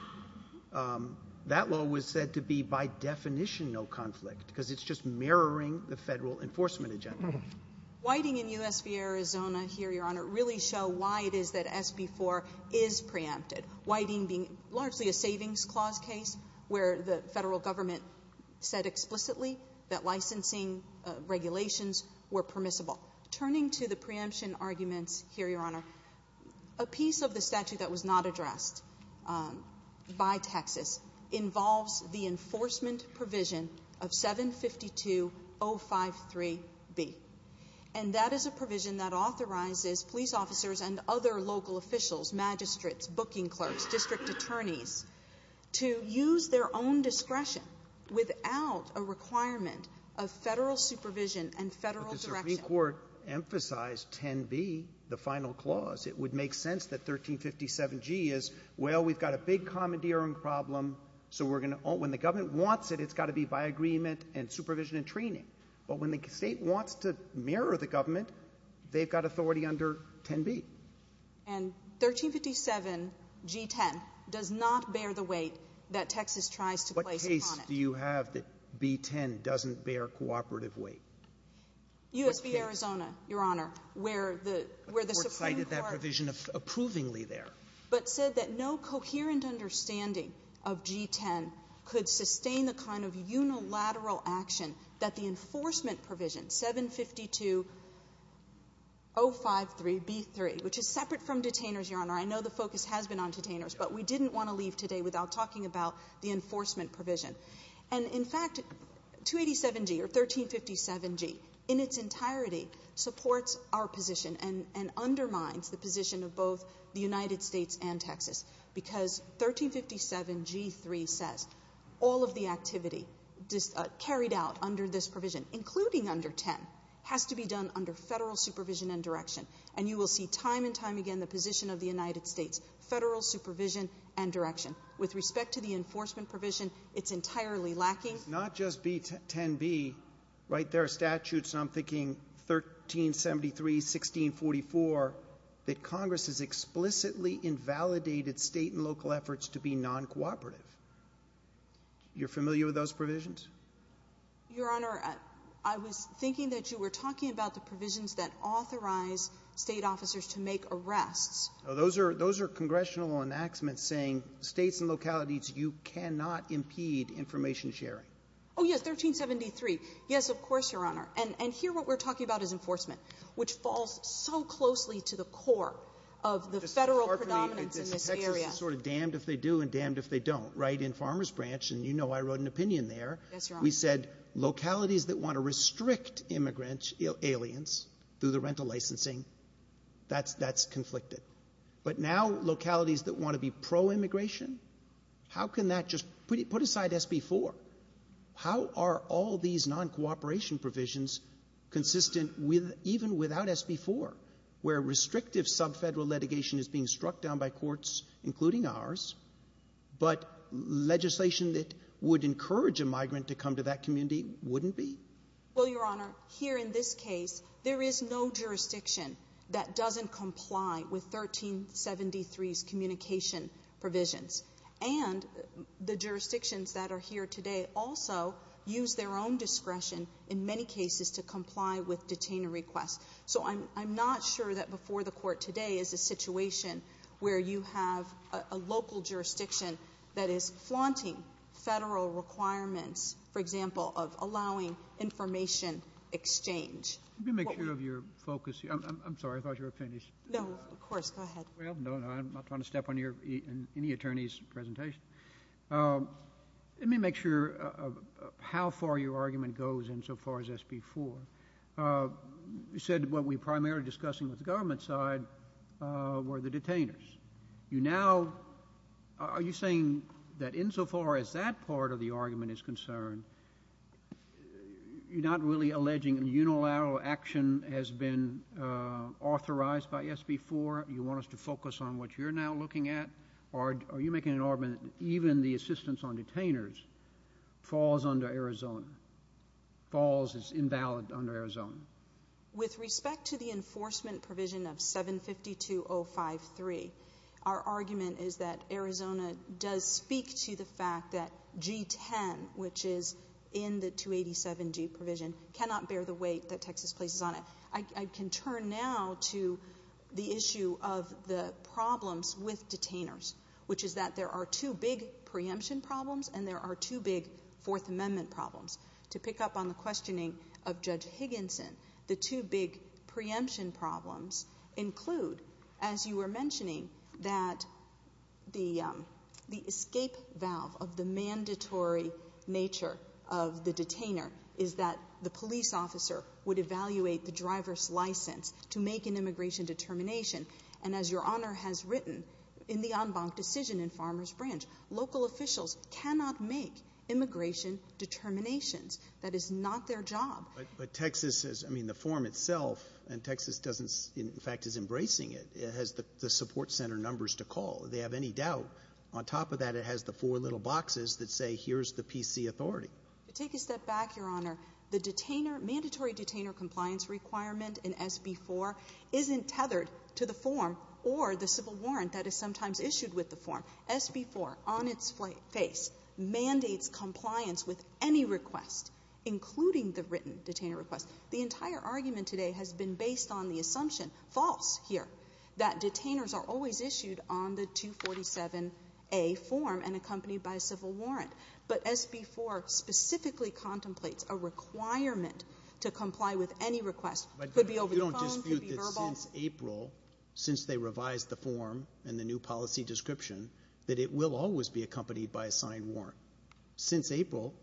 that law was said to be, by definition, no conflict, because it's just mirroring the federal enforcement agenda. Whiting in U.S. v. Arizona here, Your Honor, really show why it is that SB 4 is preempted. Whiting being largely a savings clause case where the federal government said explicitly that licensing regulations were permissible. Turning to the preemption arguments here, Your Honor, a piece of the statute that was not addressed by Texas involves the enforcement provision of 752053B. And that is a provision that authorizes police officers and other local officials, magistrates, booking clerks, district attorneys, to use their own discretion without a requirement of federal supervision and federal direction. But the Supreme Court emphasized 10B, the final clause. It would make sense that 1357G is, well, we've got a big commandeering problem, so when the government wants it, it's got to be by agreement and supervision and training. But when the state wants to mirror the government, they've got authority under 10B. And 1357G10 does not bear the weight that Texas tries to place on it. What case do you have that B10 doesn't bear cooperative weight? U.S. v. Arizona, Your Honor, where the Supreme Court... Where it cited that provision approvingly there. ...but said that no coherent understanding of G10 could sustain the kind of unilateral action that the enforcement provision 752053B3 which is separate from detainers, Your Honor. I know the focus has been on detainers, but we didn't want to leave today without talking about the enforcement provision. And in fact, 287G or 1357G in its entirety supports our position and undermines the position of both the United States and Texas because 1357G3 says all of the activity carried out under this provision, including under 10, has to be done under federal supervision and direction. And you will see time and time again the position of the United States, federal supervision and direction. With respect to the enforcement provision, it's entirely lacking. Not just B10B. Right there are statutes, and I'm thinking 1373, 1644, that Congress has explicitly invalidated state and local efforts to be non-cooperative. You're familiar with those provisions? Your Honor, I was thinking that you were talking about the provisions that authorize state officers to make arrests. Those are congressional enactments saying states and localities, you cannot impede information sharing. Oh, yeah, 1373. Yes, of course, Your Honor. And here what we're talking about is enforcement, which falls so closely to the core of the federal predominance in this area. The Texas is sort of damned if they do and damned if they don't. Right? In Farmer's Branch, and you know I wrote an opinion there, we said localities that want to restrict immigrants, aliens, through the rental licensing, that's conflicted. But now localities that want to be pro-immigration, how can that just... Put aside SB4. How are all these non-cooperation provisions consistent even without SB4, where restrictive sub-federal litigation is being struck down by courts, including ours, but legislation that would encourage a migrant to come to that community wouldn't be? Well, Your Honor, here in this case, there is no jurisdiction that doesn't comply with 1373's communication provisions. And the jurisdictions that are here today also use their own discretion in many cases to comply with detainer requests. So I'm not sure that before the court today is a situation where you have a local jurisdiction that is flaunting federal requirements, for example, of allowing information exchange. Let me make sure of your focus here. I'm sorry, I thought you were finished. No, of course, go ahead. I'm not trying to step on any attorney's presentation. Let me make sure of how far your argument goes insofar as SB4. You said what we're primarily discussing with the government side were the detainers. You now... Are you saying that insofar as that part of the argument is concerned, you're not really alleging unilateral action has been authorized by SB4? You want us to focus on what you're now looking at? Or are you making an argument that even the assistance on detainers falls under Arizona? With respect to the enforcement provision of 752053, our argument is that Arizona does speak to the fact that G10, which is in the 287G provision, cannot bear the weight that Texas places on it. I can turn now to the issue of the problems with detainers, which is that there are two big preemption problems and there are two big Fourth Amendment problems. To pick up on the questioning of Judge Higginson, the two big preemption problems include, as you were mentioning, that the escape valve of the mandatory nature of the detainer is that the police officer would evaluate the driver's license to make an immigration determination. And as Your Honor has written in the en banc decision in Farmers Branch, local officials cannot make immigration determinations. That is not their job. But Texas is, I mean, the form itself, and Texas doesn't, in fact is embracing it, has the support center numbers to call. They have any doubt. On top of that, it has the four little boxes that say, here's the PC authority. Take a step back, Your Honor. The mandatory detainer compliance requirement in SB4 that is sometimes issued with the form. SB4, on its face, mandates compliance with any request, including the written detainer request. The entire argument today has been based on the assumption, false here, that detainers are always issued on the 247A form and accompanied by a civil warrant. But SB4 specifically contemplates a requirement to comply with any request, could be over the phone, could be verbal. Since April, since they revised the form and the new policy description, that it will always be accompanied by a signed warrant. Since April.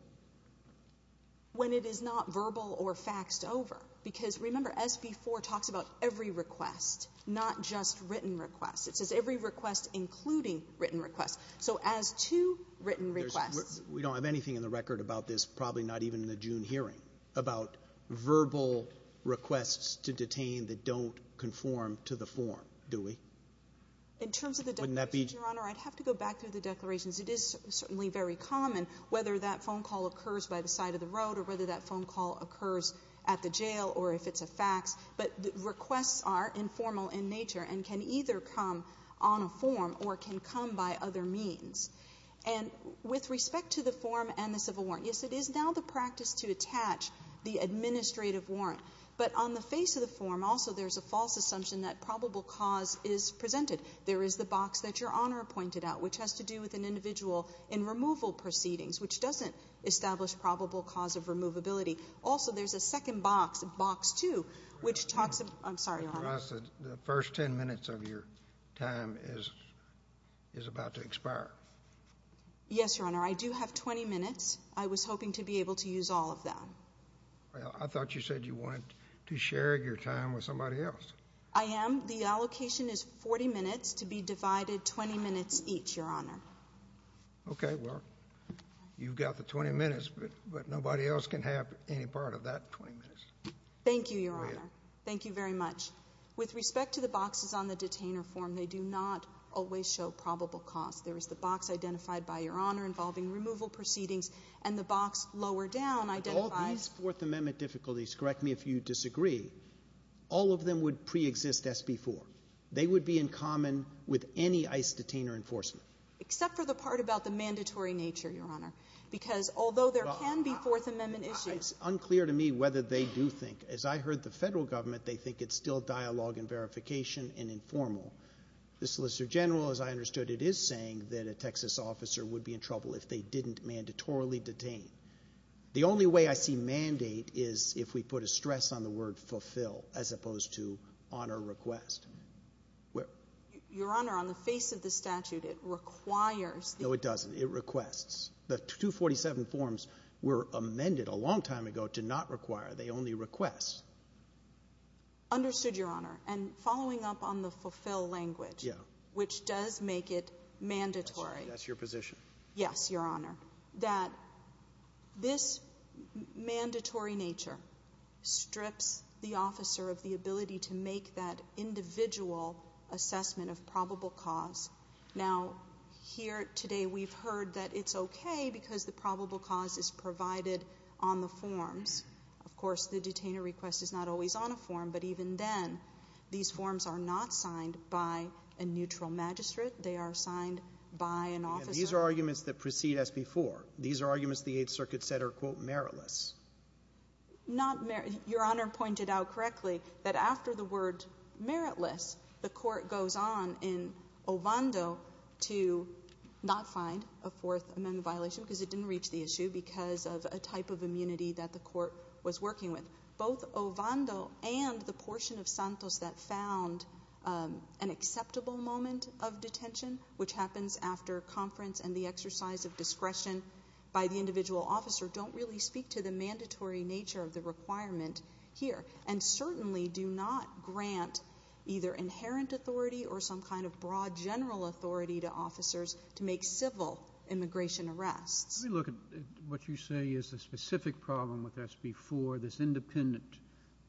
When it is not verbal or faxed over. Because remember, SB4 talks about every request, not just written requests. It says every request including written requests. So as to written requests. We don't have anything in the record about this, probably not even in the June hearing, about verbal requests to detain that don't conform to the form, do we? In terms of the declaration, Your Honor, I'd have to go back to the declaration. It is certainly very common, whether that phone call occurs by the side of the road or whether that phone call occurs at the jail or if it's a fax. But requests are informal in nature and can either come on a form or can come by other means. And with respect to the form and the civil warrant, yes, it is now the practice to attach the administrative warrant. But on the face of the form, also, there's a false assumption that probable cause is presented. There is the box that Your Honor pointed out, which has to do with an individual in removal proceedings, which doesn't establish probable cause of removability. Also, there's a second box, Box 2, which talks about... I'm sorry, Your Honor. The first 10 minutes of your time is about to expire. Yes, Your Honor. I do have 20 minutes. I was hoping to be able to use all of them. I thought you said you wanted to share your time with somebody else. I am. The allocation is 40 minutes to be divided 20 minutes each, Your Honor. Okay, well, you've got the 20 minutes, but nobody else can have any part of that 20 minutes. Thank you, Your Honor. Thank you very much. With respect to the boxes on the detainer form, they do not always show probable cause. There's the box identified by Your Honor involving removal proceedings and the box lower down identifies... Of all these Fourth Amendment difficulties, correct me if you disagree, all of them would preexist SB 4. They would be in common with any ICE detainer enforcement. Except for the part about the mandatory nature, Your Honor, because although there can be Fourth Amendment issues... It's unclear to me whether they do think. As I heard the federal government, they think it's still dialogue and verification and informal. The Solicitor General, as I understood it, is saying that a Texas officer would be in trouble if they didn't mandatorily detain. The only way I see mandate is if we put a stress on the word fulfill as opposed to honor request. Your Honor, on the face of the statute, it requires... No, it doesn't. It requests. The 247 forms were amended a long time ago to not require. They only request. Understood, Your Honor. And following up on the fulfill language, which does make it mandatory... That's your position. Yes, Your Honor. That this mandatory nature strips the officer of the ability to make that individual assessment of probable cause. Now, here today we've heard that it's okay because the probable cause is provided on the form. Of course, the detainer request is not always on a form, but even then, these forms are not signed by a neutral magistrate. They are signed by an officer. These are arguments that precede us before. These are arguments the Eighth Circuit said are, quote, meritless. Your Honor pointed out correctly that after the word meritless, the court goes on in Ovando to not find a Fourth Amendment violation because it didn't reach the issue because of a type of immunity that the court was working with. Both Ovando and the portion of Santos that found an acceptable moment of detention, which happens after conference and the exercise of discretion by the individual officer, don't really speak to the mandatory nature of the requirement here and certainly do not grant either inherent authority or some kind of broad general authority to officers to make civil immigration arrests. Let me look at what you say is a specific problem with SB4, that's independent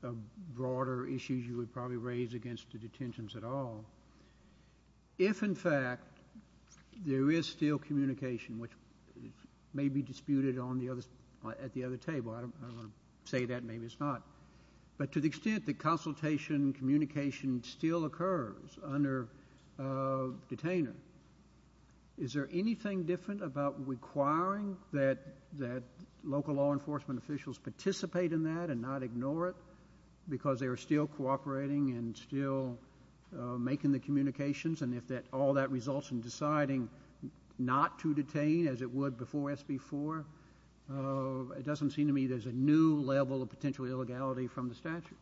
of broader issues you would probably raise against the detentions at all. If, in fact, there is still communication, which may be disputed at the other table. I don't want to say that. Maybe it's not. But to the extent that consultation and communication still occurs under detainment, is there anything different about requiring that local law enforcement officials participate in that and not ignore it because they're still cooperating and still making the communications and if all that results in deciding not to detain as it would before SB4, it doesn't seem to me there's a new level of potential illegality from the statute.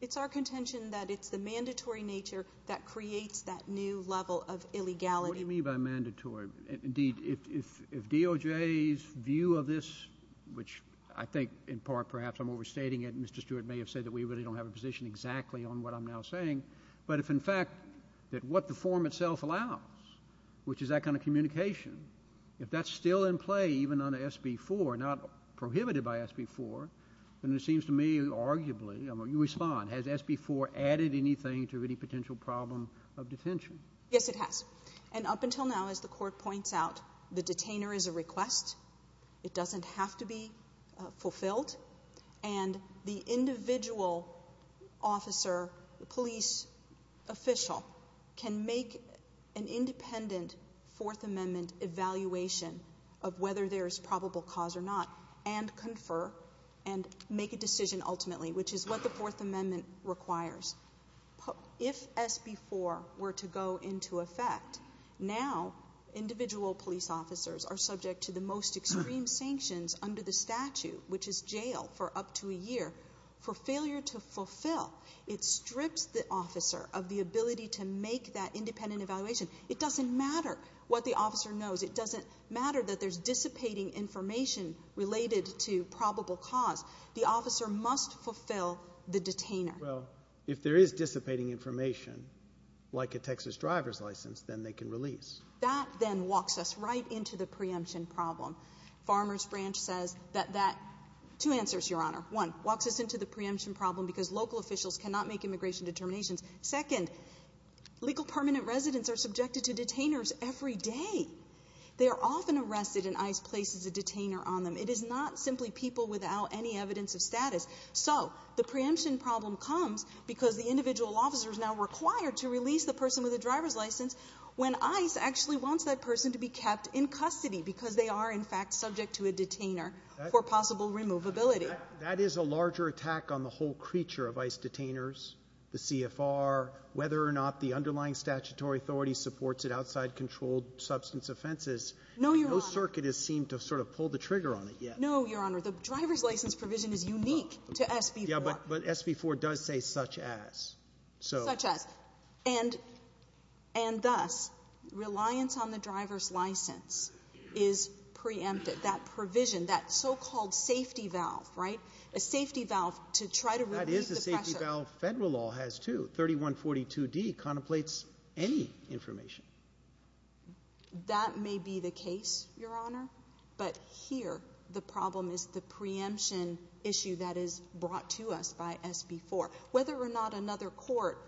It's our contention that it's the mandatory nature that creates that new level of illegality. What do you mean by mandatory? Indeed, if DOJ's view of this, which I think in part perhaps I'm overstating it, and Mr. Stewart may have said that we really don't have a position exactly on what I'm now saying, but if in fact what the form itself allows, which is that kind of communication, if that's still in play even under SB4, not prohibited by SB4, then it seems to me arguably, you respond, has SB4 added anything to any potential problem of detention? Yes, it has. And up until now, as the Court points out, the detainer is a request. It doesn't have to be fulfilled. And the individual officer, the police official, can make an independent Fourth Amendment evaluation of whether there's probable cause or not and confer and make a decision ultimately, which is what the Fourth Amendment requires. If SB4 were to go into effect, now individual police officers are subject to the most extreme sanctions under the statute, which is jail for up to a year, for failure to fulfill. It strips the officer of the ability to make that independent evaluation. It doesn't matter what the officer knows. It doesn't matter that there's dissipating information related to probable cause. The officer must fulfill the detainer. Well, if there is dissipating information, like a Texas driver's license, then they can release. That then walks us right into the preemption problem. Farmers Branch says that that, two answers, Your Honor. One, walks us into the preemption problem because local officials cannot make immigration determinations. Second, legal permanent residents are subjected to detainers every day. They are often arrested and ICE places a detainer on them. It is not simply people without any evidence of status. So the preemption problem comes because the individual officer is now required to release the person with a driver's license when ICE actually wants that person to be kept in custody because they are in fact subject to a detainer for possible removability. That is a larger attack on the whole creature of ICE detainers, the CFR, whether or not the underlying statutory authority supports it outside controlled substance offenses. No circuit has seemed to sort of pull the trigger on it yet. No, Your Honor. The driver's license provision is unique to SB 4. Yeah, but SB 4 does say such as. Such as. And thus, reliance on the driver's license is preempted. That provision, that so-called safety valve, right? A safety valve to try to release the person. That is a safety valve. Federal law has too. 3142D contemplates any information. That may be the case, Your Honor. But here the problem is the preemption issue that is brought to us by SB 4. Whether or not another court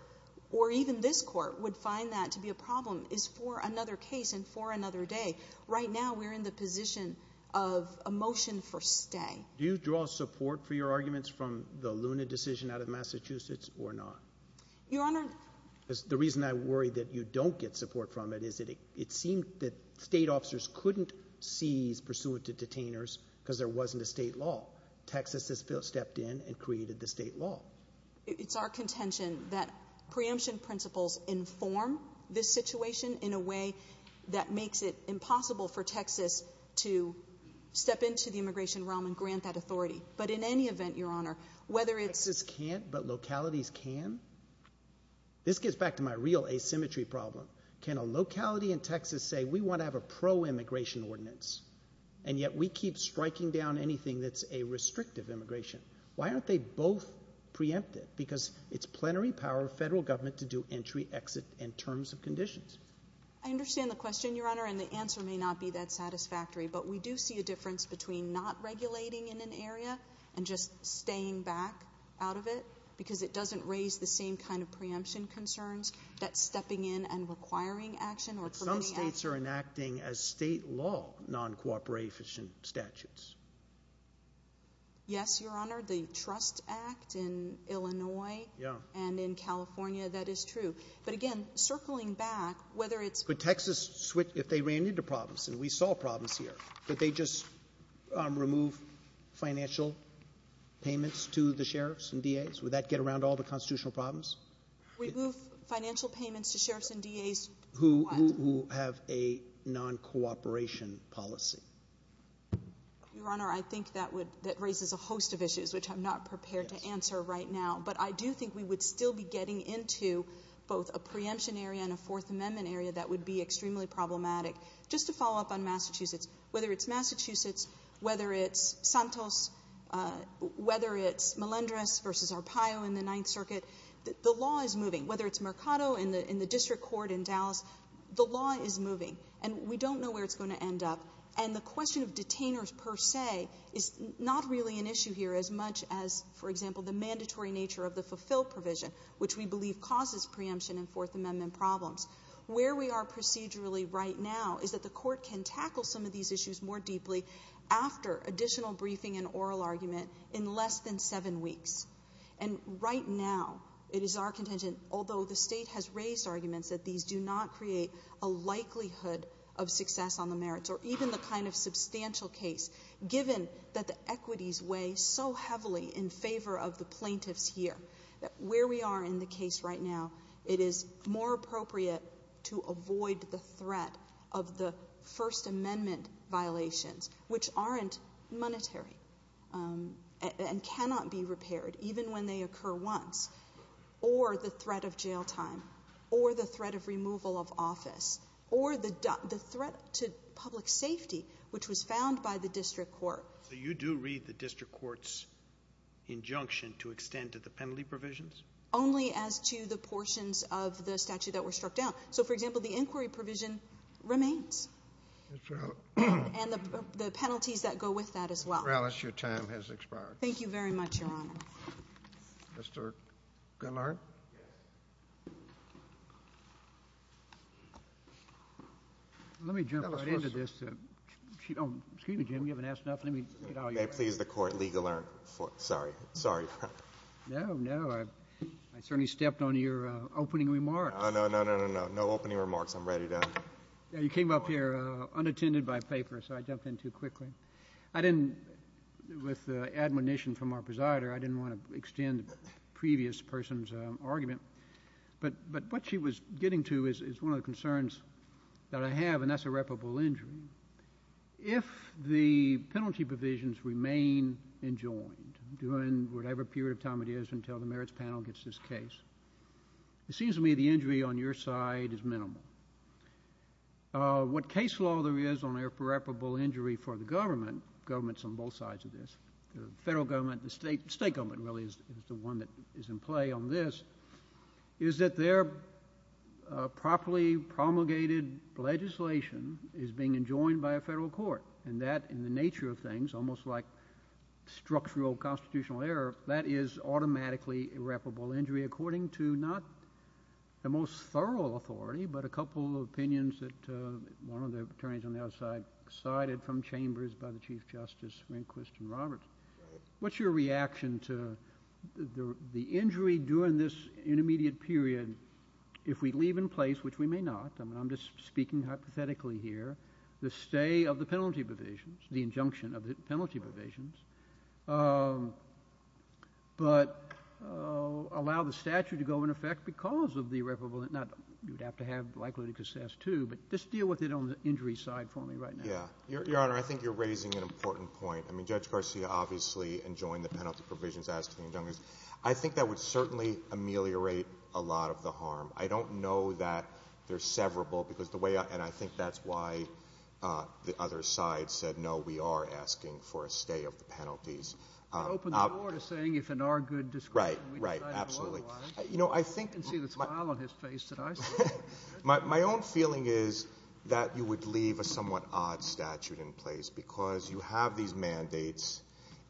or even this court would find that to be a problem is for another case and for another day. Right now we're in the position of a motion for stay. Do you draw support for your arguments from the Luna decision out of Massachusetts or not? Your Honor. The reason I worry that you don't get support from it is that it seems that state officers couldn't seize pursuant to detainers because there wasn't a state law. Texas has stepped in and created the state law. It's our contention that preemption principles inform this situation in a way that makes it impossible for Texas to step into the immigration realm and grant that authority. But in any event, Your Honor, whether it's... Texas can't, but localities can? This gets back to my real asymmetry problem. Can a locality in Texas say we want to have a pro-immigration ordinance and yet we keep striking down anything that's a restrictive immigration? Why aren't they both preemptive? Because it's plenary power of federal government to do entry, exit, and terms of conditions. I understand the question, Your Honor, and the answer may not be that satisfactory, but we do see a difference between not regulating in an area and just staying back out of it because it doesn't raise the same kind of preemption concerns that stepping in and requiring action... Some states are enacting as state law non-cooperative statutes. Yes, Your Honor, the Trust Act in Illinois and in California, that is true. But again, circling back, whether it's... But Texas, if they ran into problems, and we saw problems here, did they just remove financial payments to the sheriffs and DAs? Would that get around all the constitutional problems? Remove financial payments to sheriffs and DAs? Who have a non-cooperation policy. Your Honor, I think that raises a host of issues, which I'm not prepared to answer right now, but I do think we would still be getting into both a preemption area and a Fourth Amendment area that would be extremely problematic. Just to follow up on Massachusetts, whether it's Massachusetts, whether it's Santos, whether it's Melendrez versus Arpaio in the Ninth Circuit, the law is moving. Whether it's Mercado in the district court in Dallas, the law is moving. And we don't know where it's going to end up. And the question of detainers per se is not really an issue here as much as, for example, the mandatory nature of the fulfilled provision, which we believe causes preemption and Fourth Amendment problems. Where we are procedurally right now is that the court can tackle some of these issues more deeply after additional briefing and oral argument in less than seven weeks. And right now it is our contention, although the State has raised arguments, that these do not create a likelihood of success on the merits or even the kind of substantial case, given that the equities weigh so heavily in favor of the plaintiffs here. Where we are in the case right now, it is more appropriate to avoid the threat of the First Amendment violations, which aren't monetary and cannot be repaired, even when they occur once, or the threat of jail time, or the threat of removal of office, or the threat to public safety, which was found by the district court. You do read the district court's injunction to extend to the penalty provisions? Only as to the portions of the statute that were struck down. So, for example, the inquiry provision remains. And the penalties that go with that as well. Your time has expired. Thank you very much, Your Honor. Mr. Gillard? Let me jump right into this. Excuse me, Jim, you haven't asked enough. May I please the court, legal, sorry. No, no, I certainly stepped on your opening remarks. No, no, no, no, no opening remarks, I'm ready to. You came up here unattended by paper, so I jumped in too quickly. I didn't, with the admonition from our presider, I didn't want to extend the previous person's argument. But what she was getting to is one of the concerns that I have, and that's irreparable injury. If the penalty provisions remain enjoined during whatever period of time it is until the merits panel gets this case, it seems to me the injury on your side is minimal. What case law there is on irreparable injury for the government, the government's on both sides of this, the federal government and the state government, really, is the one that is in play on this, is that they're properly promulgated legislation is being enjoined by a federal court. And that, in the nature of things, almost like structural constitutional error, that is automatically irreparable injury, according to not the most thorough authority, but a couple of opinions that one of the attorneys on the other side cited from chambers by the Chief Justice, Rehnquist and Roberts. What's your reaction to the injury during this intermediate period, if we leave in place, which we may not, and I'm just speaking hypothetically here, the stay of the penalty provisions, the injunction of the penalty provisions, but allow the statute to go into effect because of the irreparable, you'd have to have the likelihood of success, too, but just deal with it on the injury side for me right now. Yeah. Your Honor, I think you're raising an important point. I mean, Judge Garcia, obviously, enjoined the penalty provisions, as did Dean Junges. I think that would certainly ameliorate a lot of the harm. I don't know that they're severable, because the way, and I think that's why the other side said, you know, we are asking for a stay of the penalties. It opens the door to saying if in our good discretion we decide otherwise. Right, right, absolutely. You know, I think— You can see the smile on his face that I see. My own feeling is that you would leave a somewhat odd statute in place because you have these mandates,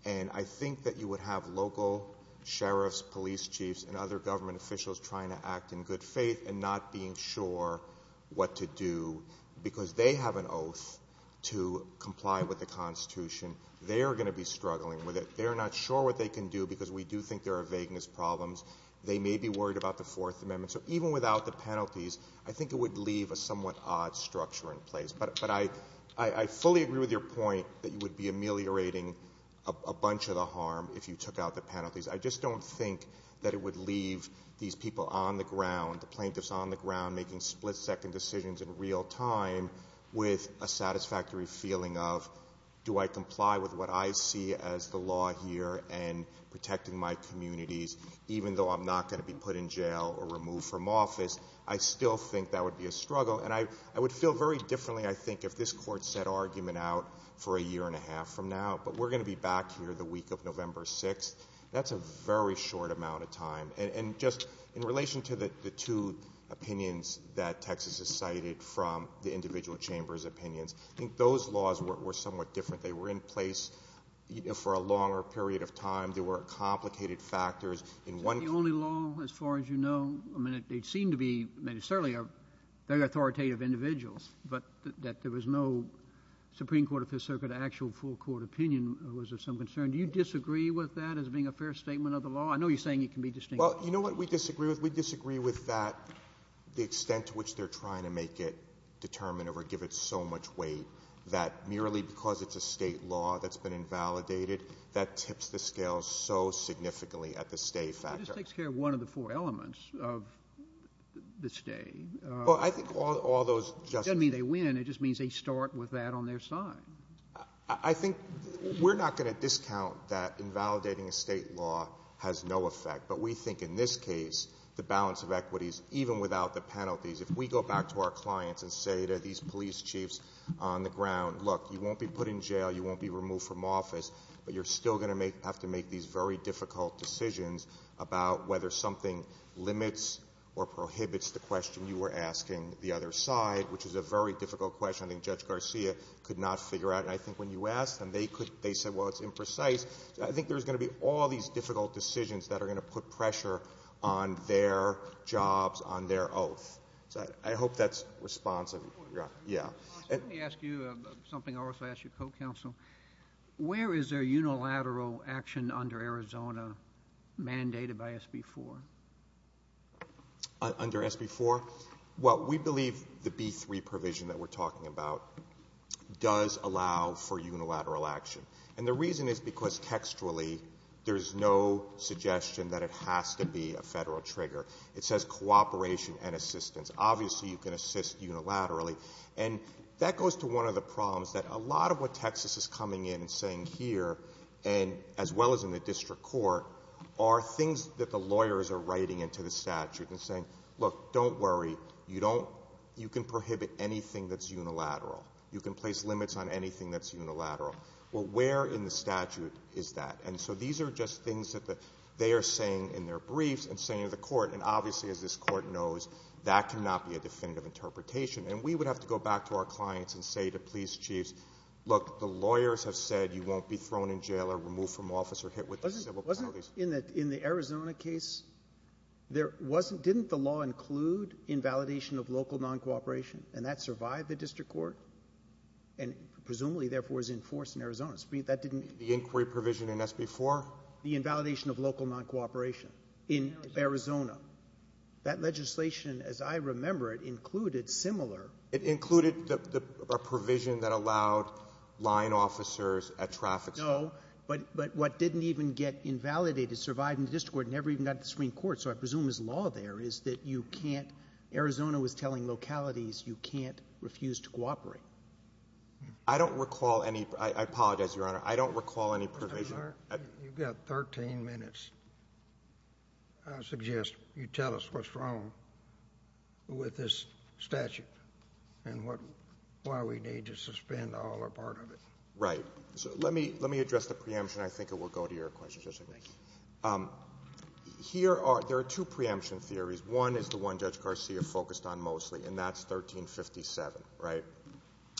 and I think that you would have local sheriffs, police chiefs, and other government officials trying to act in good faith and not being sure what to do because they have an oath to comply with the Constitution. They are going to be struggling with it. They're not sure what they can do because we do think there are vagueness problems. They may be worried about the Fourth Amendment. So even without the penalties, I think it would leave a somewhat odd structure in place. But I fully agree with your point that you would be ameliorating a bunch of the harm if you took out the penalties. the plaintiffs on the ground, making split-second decisions in real time with a satisfactory feeling of, do I comply with what I see as the law here and protecting my communities even though I'm not going to be put in jail or removed from office? I still think that would be a struggle, and I would feel very differently, I think, if this Court set argument out for a year and a half from now, but we're going to be back here the week of November 6th. That's a very short amount of time. And just in relation to the two opinions that Texas has cited from the individual chambers' opinions, I think those laws were somewhat different. They were in place for a longer period of time. There were complicated factors. The only law, as far as you know, I mean, they seem to be, certainly they're authoritative individuals, but that there was no Supreme Court or Fifth Circuit, actual full court opinion was of some concern. Do you disagree with that as being a fair statement of the law? I know you're saying it can be distinguished... Well, you know what we disagree with? We disagree with that, the extent to which they're trying to make it determinative or give it so much weight that merely because it's a state law that's been invalidated, that tips the scale so significantly at the state factor. It just takes care of one of the four elements of the state. Well, I think all those... It doesn't mean they win, it just means they start with that on their side. I think we're not going to discount that invalidating a state law has no effect. But we think in this case, the balance of equities, even without the penalties, if we go back to our client and say to these police chiefs on the ground, look, you won't be put in jail, you won't be removed from office, but you're still going to have to make these very difficult decisions about whether something limits or prohibits the question you were asking the other side, which is a very difficult question I think Judge Garcia could not figure out. And I think when you asked them, they said, well, it's imprecise. I think there's going to be all these difficult decisions that are going to put pressure on their jobs, on their... Oh, I hope that's responsive. Yeah. Let me ask you something I'll also ask your co-counsel. Where is there unilateral action under Arizona mandated by SB 4? Under SB 4? Well, we believe the B3 provision that we're talking about does allow for unilateral action. And the reason is because textually there's no suggestion that it has to be a federal trigger. It says cooperation and assistance. Obviously, you can assist unilaterally. And that goes to one of the problems, that a lot of what Texas is coming in and saying here, as well as in the district court, are things that the lawyers are writing into the statute and saying, look, don't worry, you can prohibit anything that's unilateral. You can place limits on anything that's unilateral. Well, where in the statute is that? And so these are just things that they are saying in their briefs and saying in the court, and obviously, as this court knows, that cannot be a definitive interpretation. And we would have to go back to our clients and say to police chiefs, look, the lawyers have said you won't be thrown in jail or removed from office or hit with a civil penalty. Wasn't in the Arizona case, didn't the law include invalidation of local non-cooperation? And that survived the district court and presumably, therefore, was enforced in Arizona. The inquiry provision in SB4? The invalidation of local non-cooperation in Arizona. That legislation, as I remember it, included similar... It included a provision that allowed line officers at traffic stops. No, but what didn't even get invalidated survived in the district court, never even got to the Supreme Court. So I presume his law there is that you can't... Arizona was telling localities you can't refuse to cooperate. I don't recall any... I apologize, Your Honor. I don't recall any provision. You've got 13 minutes. I suggest you tell us what's wrong with this statute and why we need to suspend all or part of it. Right. So let me address the preemption. I think it will go to your question, Judge O'Neill. There are two preemption theories. One is the one Judge Garcia focused on mostly, and that's 1357, right?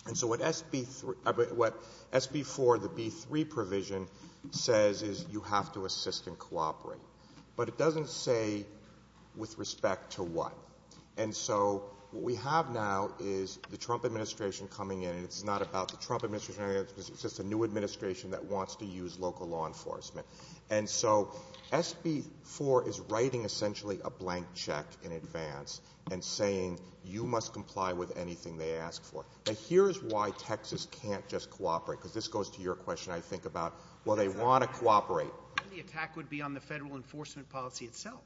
And so what SB4, the B3 provision, says is you have to assist and cooperate. But it doesn't say with respect to what. And so what we have now is the Trump administration coming in. It's not about the Trump administration. It's just a new administration that wants to use local law enforcement. And so SB4 is writing essentially a blank check in advance and saying you must comply with anything they ask for. And here's why Texas can't just cooperate, because this goes to your question, I think, about, well, they want to cooperate. The attack would be on the federal enforcement policy itself.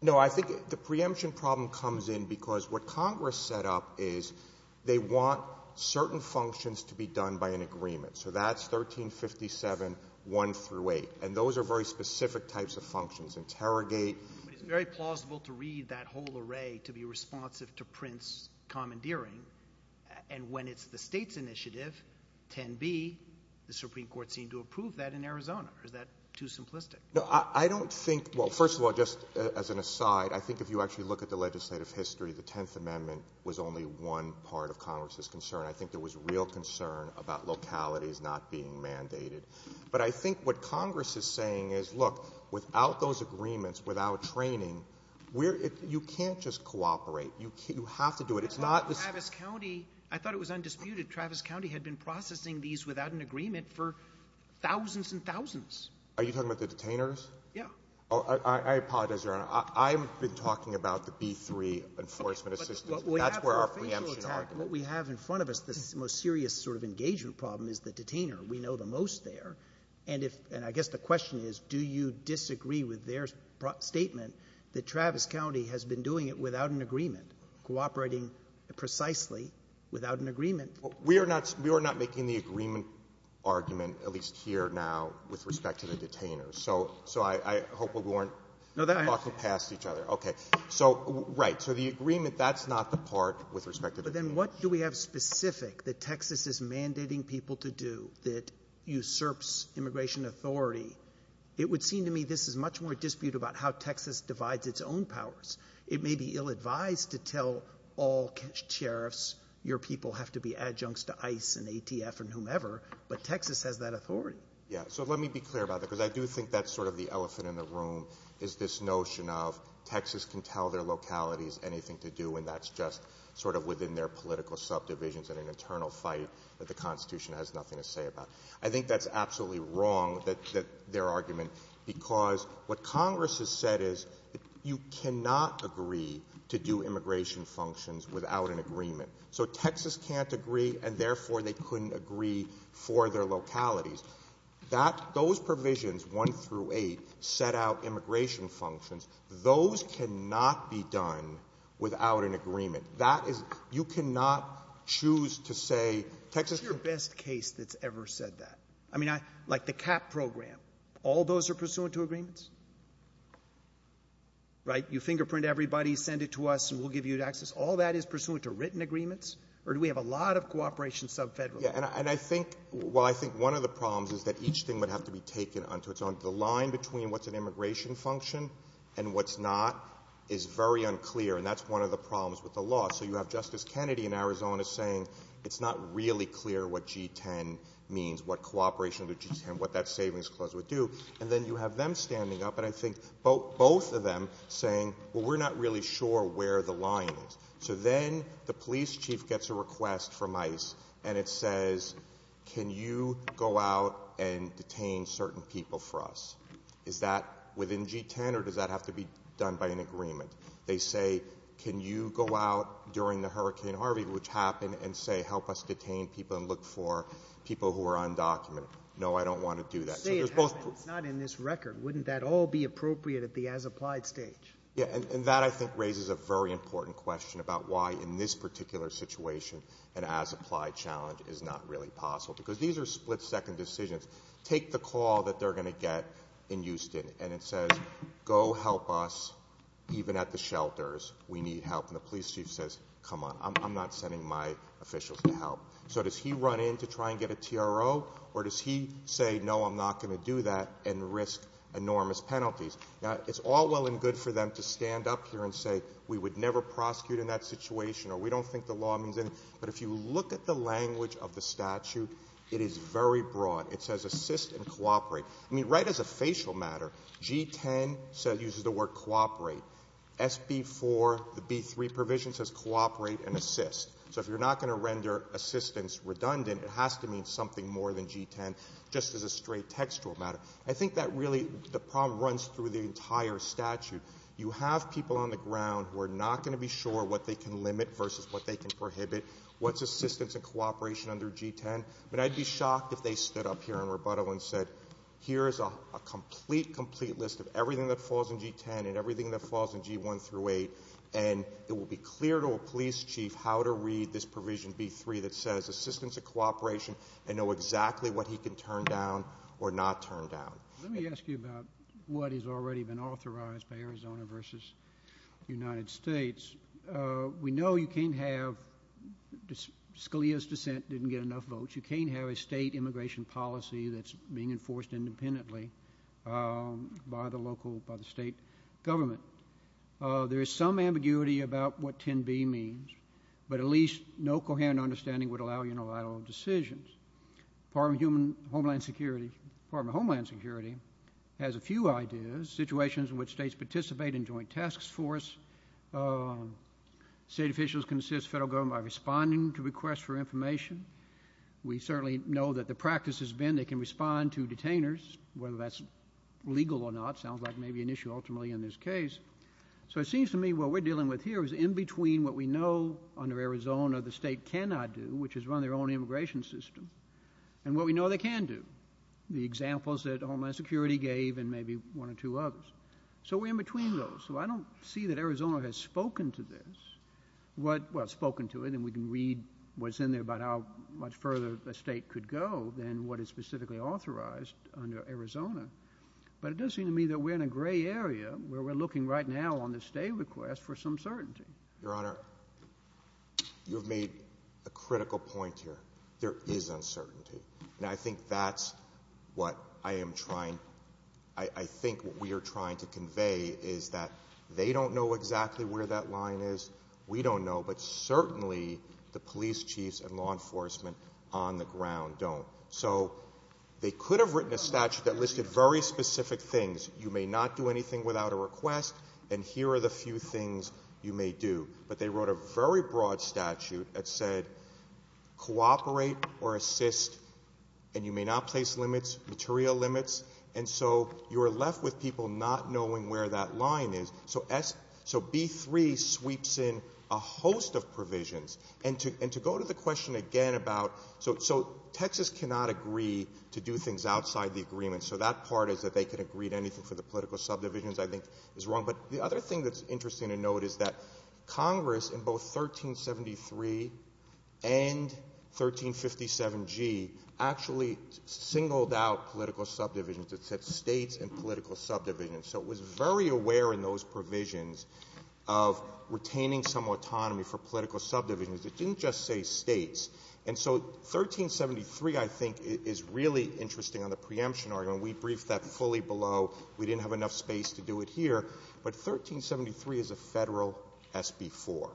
No, I think the preemption problem comes in because what Congress set up is they want certain functions to be done by an agreement. So that's 1357, 1 through 8. And those are very specific types of functions. Interrogate. It's very plausible to read that whole array to be responsive to Prince commandeering. And when it's the state's initiative, 10B, the Supreme Court seemed to approve that in Arizona. Is that too simplistic? No, I don't think, well, first of all, just as an aside, I think if you actually look at the legislative history, the Tenth Amendment was only one part of Congress's concern. I think there was real concern about localities not being mandated. But I think what Congress is saying is, look, without those agreements, without training, you can't just cooperate. You have to do it. It's not just... Travis County, I thought it was undisputed, Travis County had been processing these without an agreement for thousands and thousands. Are you talking about the detainers? Yeah. I apologize, Your Honor. I've been talking about the B3 enforcement assistance. That's where our preemption argument is. What we have in front of us, the most serious sort of engagement problem is the detainer. We know the most there. And I guess the question is, do you disagree with their statement that Travis County has been doing it without an agreement, cooperating precisely without an agreement? We are not making the agreement argument, at least here now, with respect to the detainers. So I hope we won't... No, that... ...pass each other. Okay. So, right. So the agreement, that's not the part with respect to... But then what do we have specific that Texas is mandating people to do that usurps immigration authority? It would seem to me this is much more dispute about how Texas divides its own powers. It may be ill-advised to tell all sheriffs, your people have to be adjuncts to ICE and ATF and whomever, but Texas has that authority. Yeah. So let me be clear about that, because I do think that's sort of the elephant in the room, is this notion of Texas can tell their localities anything to do when that's just sort of within their political subdivisions and an internal fight that the Constitution has nothing to say about. I think that's absolutely wrong, their argument, because what Congress has said is you cannot agree to do immigration functions without an agreement. So Texas can't agree, and therefore they couldn't agree for their localities. Those provisions, 1 through 8, set out immigration functions. Those cannot be done without an agreement. You cannot choose to say Texas... What's your best case that's ever said that? I mean, like the CAP program, all those are pursuant to agreements? Right? You fingerprint everybody, send it to us, and we'll give you access. All that is pursuant to written agreements? Or do we have a lot of cooperation sub-federal? Yeah, and I think... Well, I think one of the problems is that each thing would have to be taken onto its own. The line between what's an immigration function and what's not is very unclear, and that's one of the problems with the law. So you have Justice Kennedy in Arizona saying it's not really clear what G-10 means, what cooperation under G-10, what that savings clause would do, and then you have them standing up, and I think both of them, saying, well, we're not really sure where the line is. So then the police chief gets a request from ICE, and it says, can you go out and detain certain people for us? Is that within G-10, or does that have to be done by an agreement? They say, can you go out during the Hurricane Harvey, which happened, and say, help us detain people and look for people who are undocumented? No, I don't want to do that. Say it happened, not in this record. Wouldn't that all be appropriate at the as-applied stage? Yeah, and that, I think, raises a very important question about why, in this particular situation, an as-applied challenge is not really possible, because these are split-second decisions. Take the call that they're going to get in Houston, and it says, go help us, even at the shelters, we need help. And the police chief says, come on, I'm not sending my officials to help. So does he run in to try and get a TRO, or does he say, no, I'm not going to do that, and risk enormous penalties? Now, it's all well and good for them to stand up here and say, we would never prosecute in that situation, or we don't think the law means anything. But if you look at the language of the statute, it is very broad. It says, assist and cooperate. I mean, right as a facial matter, G-10 uses the word cooperate. SB-4, the B-3 provision says cooperate and assist. So if you're not going to render assistance redundant, it has to mean something more than G-10, just as a straight textual matter. I think that really, the problem runs through the entire statute. You have people on the ground who are not going to be sure what they can limit versus what they can prohibit. What's assistance and cooperation under G-10? But I'd be shocked if they stood up here in rebuttal and said, here's a complete, complete list of everything that falls in G-10 and everything that falls in G-1 through 8, and it will be clear to a police chief how to read this provision, B-3, that says assistance and cooperation, and know exactly what he can turn down or not turn down. Let me ask you about what has already been authorized by Arizona versus the United States. We know you can't have Scalia's dissent didn't get enough votes. You can't have a state immigration policy that's being enforced independently by the local, by the state government. There is some ambiguity about what 10B means, but at least no coherent understanding would allow unilateral decisions. Department of Homeland Security has a few ideas. Situations in which states participate in joint task force. State officials can assist federal government by responding to requests for information. We certainly know that the practice has been they can respond to detainers, whether that's legal or not. Sounds like maybe an issue ultimately in this case. So it seems to me what we're dealing with here is in between what we know under Arizona the state cannot do, which is run their own immigration system, and what we know they can do. The examples that Homeland Security gave and maybe one or two others. So we're in between those. So I don't see that Arizona has spoken to this. Well, spoken to it, and we can read what's in there about how much further the state could go than what is specifically authorized under Arizona. But it does seem to me that we're in a gray area where we're looking right now on the state request for some certainty. Your Honor, you've made a critical point here. There is uncertainty. And I think that's what I am trying, I think what we are trying to convey is that they don't know exactly where that line is, we don't know, but certainly the police chiefs and law enforcement on the ground don't. So they could have written a statute that listed very specific things. You may not do anything without a request, and here are the few things you may do. But they wrote a very broad statute that said cooperate or assist, and you may not place limits, material limits, and so you are left with people not knowing where that line is. So B-3 sweeps in a host of provisions. And to go to the question again about, so Texas cannot agree to do things outside the agreement, so that part is that they can agree to anything for the political subdivisions I think is wrong. But the other thing that's interesting to note is that Congress in both 1373 and 1357G actually singled out political subdivisions. It said states and political subdivisions. So it was very aware in those provisions of retaining some autonomy for political subdivisions. It didn't just say states. And so 1373, I think, is really interesting on the preemption argument. We briefed that fully below. We didn't have enough space to do it here. But 1373 is a federal SB-4.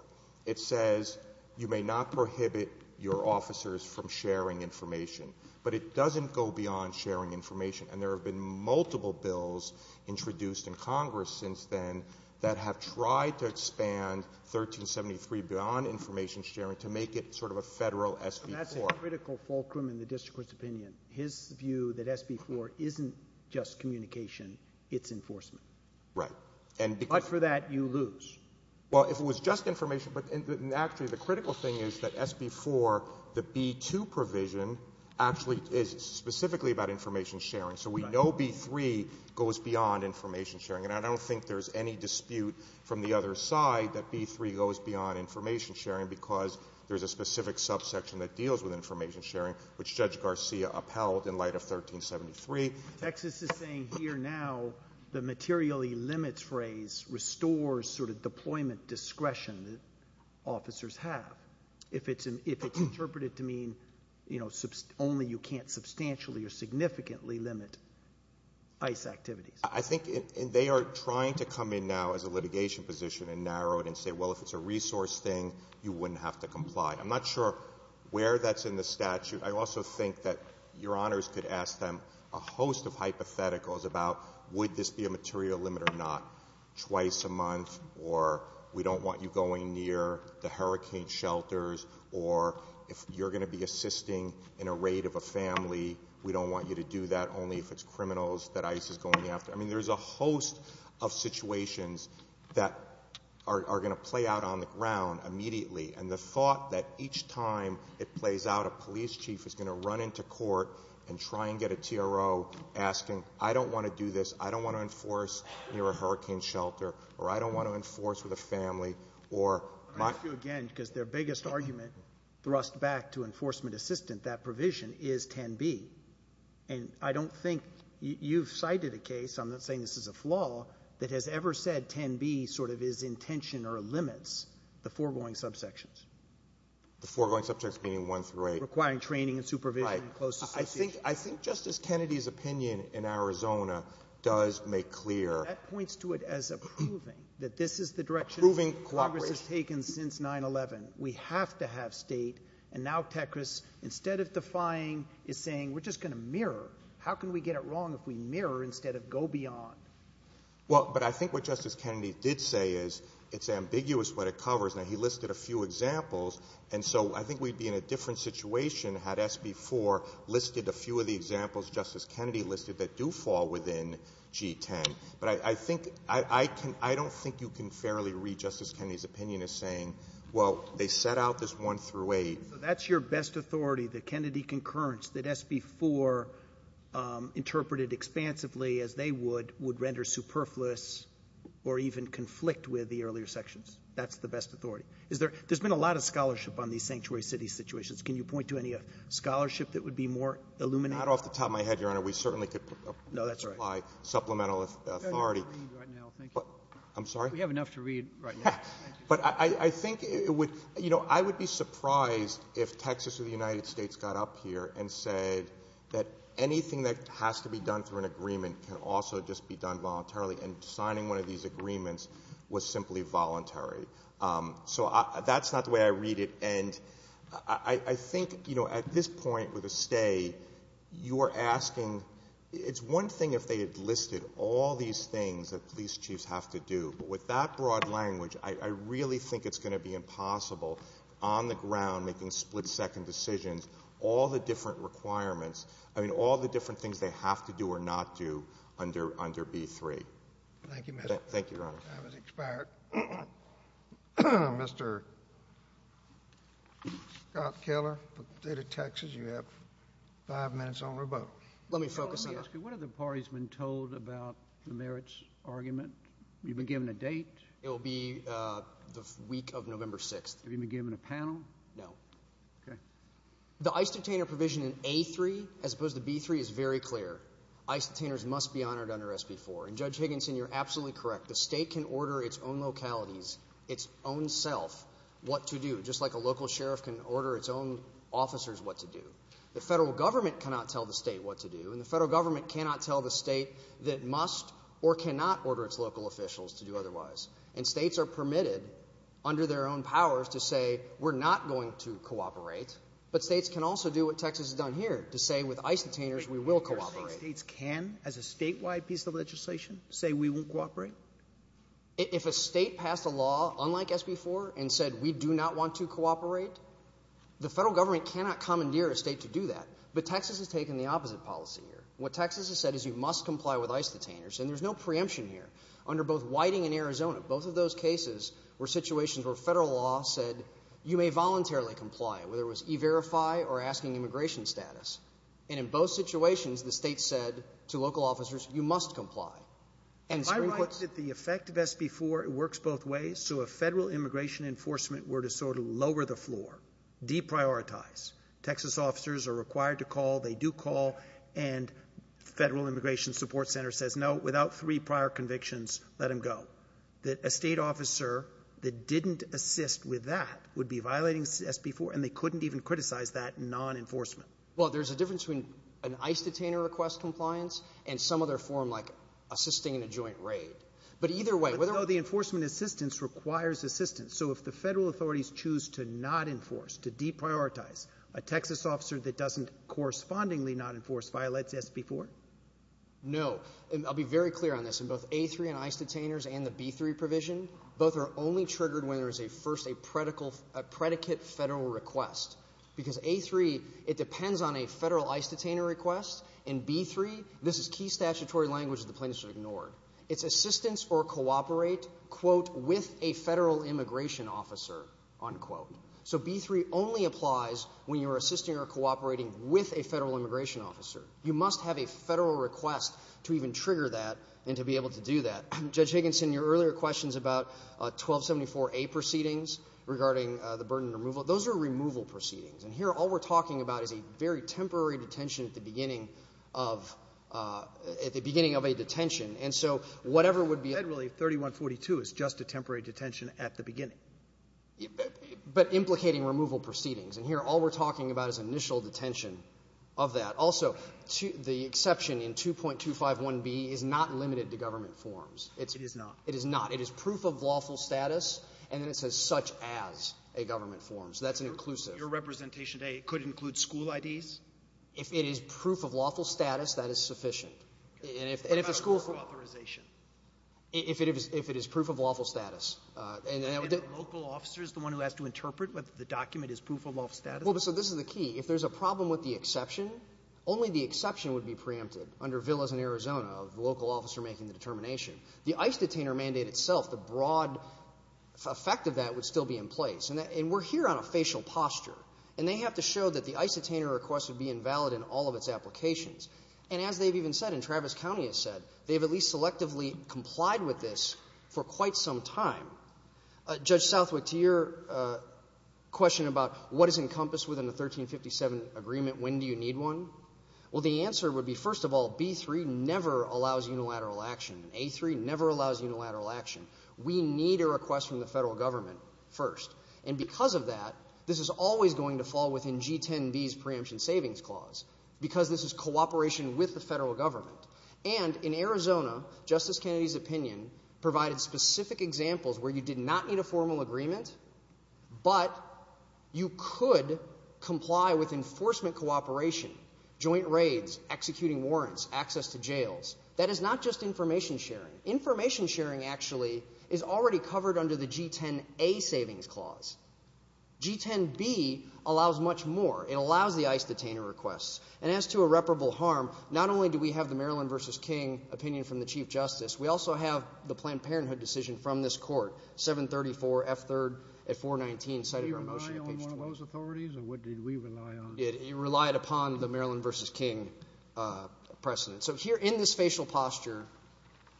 It says you may not prohibit your officers from sharing information, but it doesn't go beyond sharing information. And there have been multiple bills introduced in Congress since then that have tried to expand 1373 beyond information sharing to make it sort of a federal SB-4. That's a critical fulcrum in the district's opinion. His view that SB-4 isn't just communication, it's enforcement. Right. But for that, you lose. Well, if it was just information, actually the critical thing is that SB-4, the B-2 provision, actually is specifically about information sharing. So we know B-3 goes beyond information sharing. And I don't think there's any dispute from the other side that B-3 goes beyond information sharing because there's a specific subsection that deals with information sharing, which Judge Garcia upheld in light of 1373. Exus is saying here now the materially limits phrase restores sort of deployment discretion that officers have if it's interpreted to mean, you know, only you can't substantially or significantly limit ICE activities. I think they are trying to come in now as a litigation position and narrow it and say, well, if it's a resource thing, you wouldn't have to comply. I'm not sure where that's in the statute. I also think that Your Honors could ask them a host of hypotheticals about would this be a material limit or not twice a month or we don't want you going near the hurricane shelters or if you're going to be assisting in a raid of a family, we don't want you to do that only if it's criminals that ICE is going after. I mean, there's a host of situations that are going to play out on the ground immediately. And the thought that each time it plays out, a police chief is going to run into court and try and get a TRO asking, I don't want to do this, I don't want to enforce near a hurricane shelter or I don't want to enforce with a family. Again, because their biggest argument thrust back to enforcement assistant, that provision is can be. And I don't think you've cited a case, I'm not saying this is a flaw, that has ever said can be sort of is intention or limits the foregoing subsections. The foregoing subsections being one through eight. Requiring training, supervision, close association. I think Justice Kennedy's opinion in Arizona does make clear. That points to it as approving that this is the direction Congress has taken since 9-11. We have to have state. And now Techris, instead of defying, is saying we're just going to mirror. How can we get it wrong if we mirror instead of go beyond? Well, but I think what Justice Kennedy did say is it's ambiguous what it covers, and he listed a few examples. And so I think we'd be in a different situation had SB4 listed a few of the examples Justice Kennedy listed that do fall within G10. But I don't think you can fairly read Justice Kennedy's opinion as saying, well, they set out this one through eight. That's your best authority, the Kennedy concurrence, that SB4 interpreted expansively as they would render superfluous or even conflict with the earlier sections. That's the best authority. There's been a lot of scholarship on these sanctuary city situations. Can you point to any scholarship that would be more illuminating? Not off the top of my head, Your Honor. We certainly could supply supplemental authority. I'm sorry? We have enough to read right now. But I think, you know, I would be surprised if Texas or the United States got up here and said that anything that has to be done through an agreement can also just be done voluntarily. And signing one of these agreements was simply voluntary. So that's not the way I read it. And I think, you know, at this point with a stay, you are asking, it's one thing if they had listed all these things that police chiefs have to do. But with that broad language, I really think it's going to be impossible on the ground making split-second decisions, all the different requirements, I mean all the different things they have to do or not do under B-3. Thank you, Your Honor. Time has expired. Mr. Scott Keller, State of Texas, you have five minutes on your vote. Let me focus on this. What have the parties been told about the merits argument? Have you been given a date? It will be the week of November 6th. Have you been given a panel? No. The ICE detainer provision in A-3 as opposed to B-3 is very clear. ICE detainers must be honored under SB-4. And Judge Higginson, you're absolutely correct. The state can order its own localities, its own self, what to do, just like a local sheriff can order its own officers what to do. The federal government cannot tell the state what to do, and the federal government cannot tell the state that must or cannot order its local officials to do otherwise. And states are permitted under their own powers to say, we're not going to cooperate. But states can also do what Texas has done here, to say with ICE detainers we will cooperate. States can, as a statewide piece of legislation, say we won't cooperate? If a state passed a law unlike SB-4 and said we do not want to cooperate, the federal government cannot commandeer a state to do that. But Texas has taken the opposite policy here. What Texas has said is you must comply with ICE detainers, and there's no preemption here. Under both Whiting and Arizona, both of those cases were situations where federal law said you may voluntarily comply, whether it was e-verify or asking immigration status. And in both situations, the state said to local officers, you must comply. I like that the effect of SB-4, it works both ways. So if federal immigration enforcement were to sort of lower the floor, deprioritize, Texas officers are required to call, they do call, and the Federal Immigration Support Center says, no, without three prior convictions, let them go. A state officer that didn't assist with that would be violating SB-4, and they couldn't even criticize that non-enforcement. Well, there's a difference between an ICE detainer request compliance and some other form like assisting in a joint raid. But either way, whether or not the enforcement assistance requires assistance. So if the federal authorities choose to not enforce, to deprioritize, a Texas officer that doesn't correspondingly not enforce violates SB-4? No. I'll be very clear on this. In both A-3 and ICE detainers and the B-3 provision, both are only triggered when there is first a predicate federal request. Because A-3, it depends on a federal ICE detainer request, and B-3, this is key statutory language that the plaintiffs are ignored. It's assistance or cooperate, quote, with a federal immigration officer, unquote. So B-3 only applies when you're assisting or cooperating with a federal immigration officer. You must have a federal request to even trigger that and to be able to do that. Judge Higginson, your earlier questions about 1274A proceedings regarding the burden of removal, those are removal proceedings. And here all we're talking about is a very temporary detention at the beginning of a detention. And so whatever would be ______ 3142 is just a temporary detention at the beginning. But implicating removal proceedings. And here all we're talking about is initial detention of that. Also, the exception in 2.251B is not limited to government forms. It is not. It is not. It is proof of lawful status, and it is such as a government form. So that's inclusive. Your representation today could include school IDs? If it is proof of lawful status, that is sufficient. And if a school ______ If it is proof of lawful status. And a local officer is the one who has to interpret whether the document is proof of lawful status? Well, so this is the key. If there's a problem with the exception, only the exception would be preempted under Villas in Arizona, a local officer making the determination. The ICE detainer mandate itself, the broad effect of that would still be in place. And we're here on a facial posture. And they have to show that the ICE detainer request would be invalid in all of its applications. And as they've even said, and Travis County has said, they've at least selectively complied with this for quite some time. Judge Southwick, to your question about what is encompassed within the 1357 agreement, when do you need one? Well, the answer would be, first of all, B-3 never allows unilateral action. A-3 never allows unilateral action. We need a request from the federal government first. And because of that, this is always going to fall within G-10B's preemption savings clause because this is cooperation with the federal government. And in Arizona, Justice Kennedy's opinion provided specific examples where you did not need a formal agreement, but you could comply with enforcement cooperation, joint raids, executing warrants, access to jails. That is not just information sharing. Information sharing, actually, is already covered under the G-10A savings clause. G-10B allows much more. It allows the ICE detainer requests. And as to irreparable harm, not only do we have the Maryland v. King opinion from the Chief Justice, we also have the Planned Parenthood decision from this court, 734 F. 3rd at 419. Do you rely on one of those authorities, or what do you leave an eye on? It relied upon the Maryland v. King precedent. So here in this facial posture,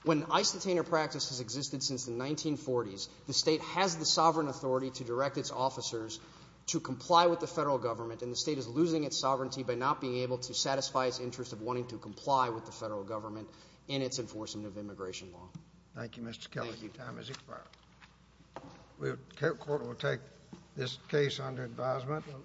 when ICE detainer practice has existed since the 1940s, the state has the sovereign authority to direct its officers to comply with the federal government, and the state is losing its sovereignty by not being able to satisfy its interest of wanting to comply with the federal government in its enforcement of immigration law. Thank you, Mr. Kelly. Your time has expired. The court will take this case under advisement.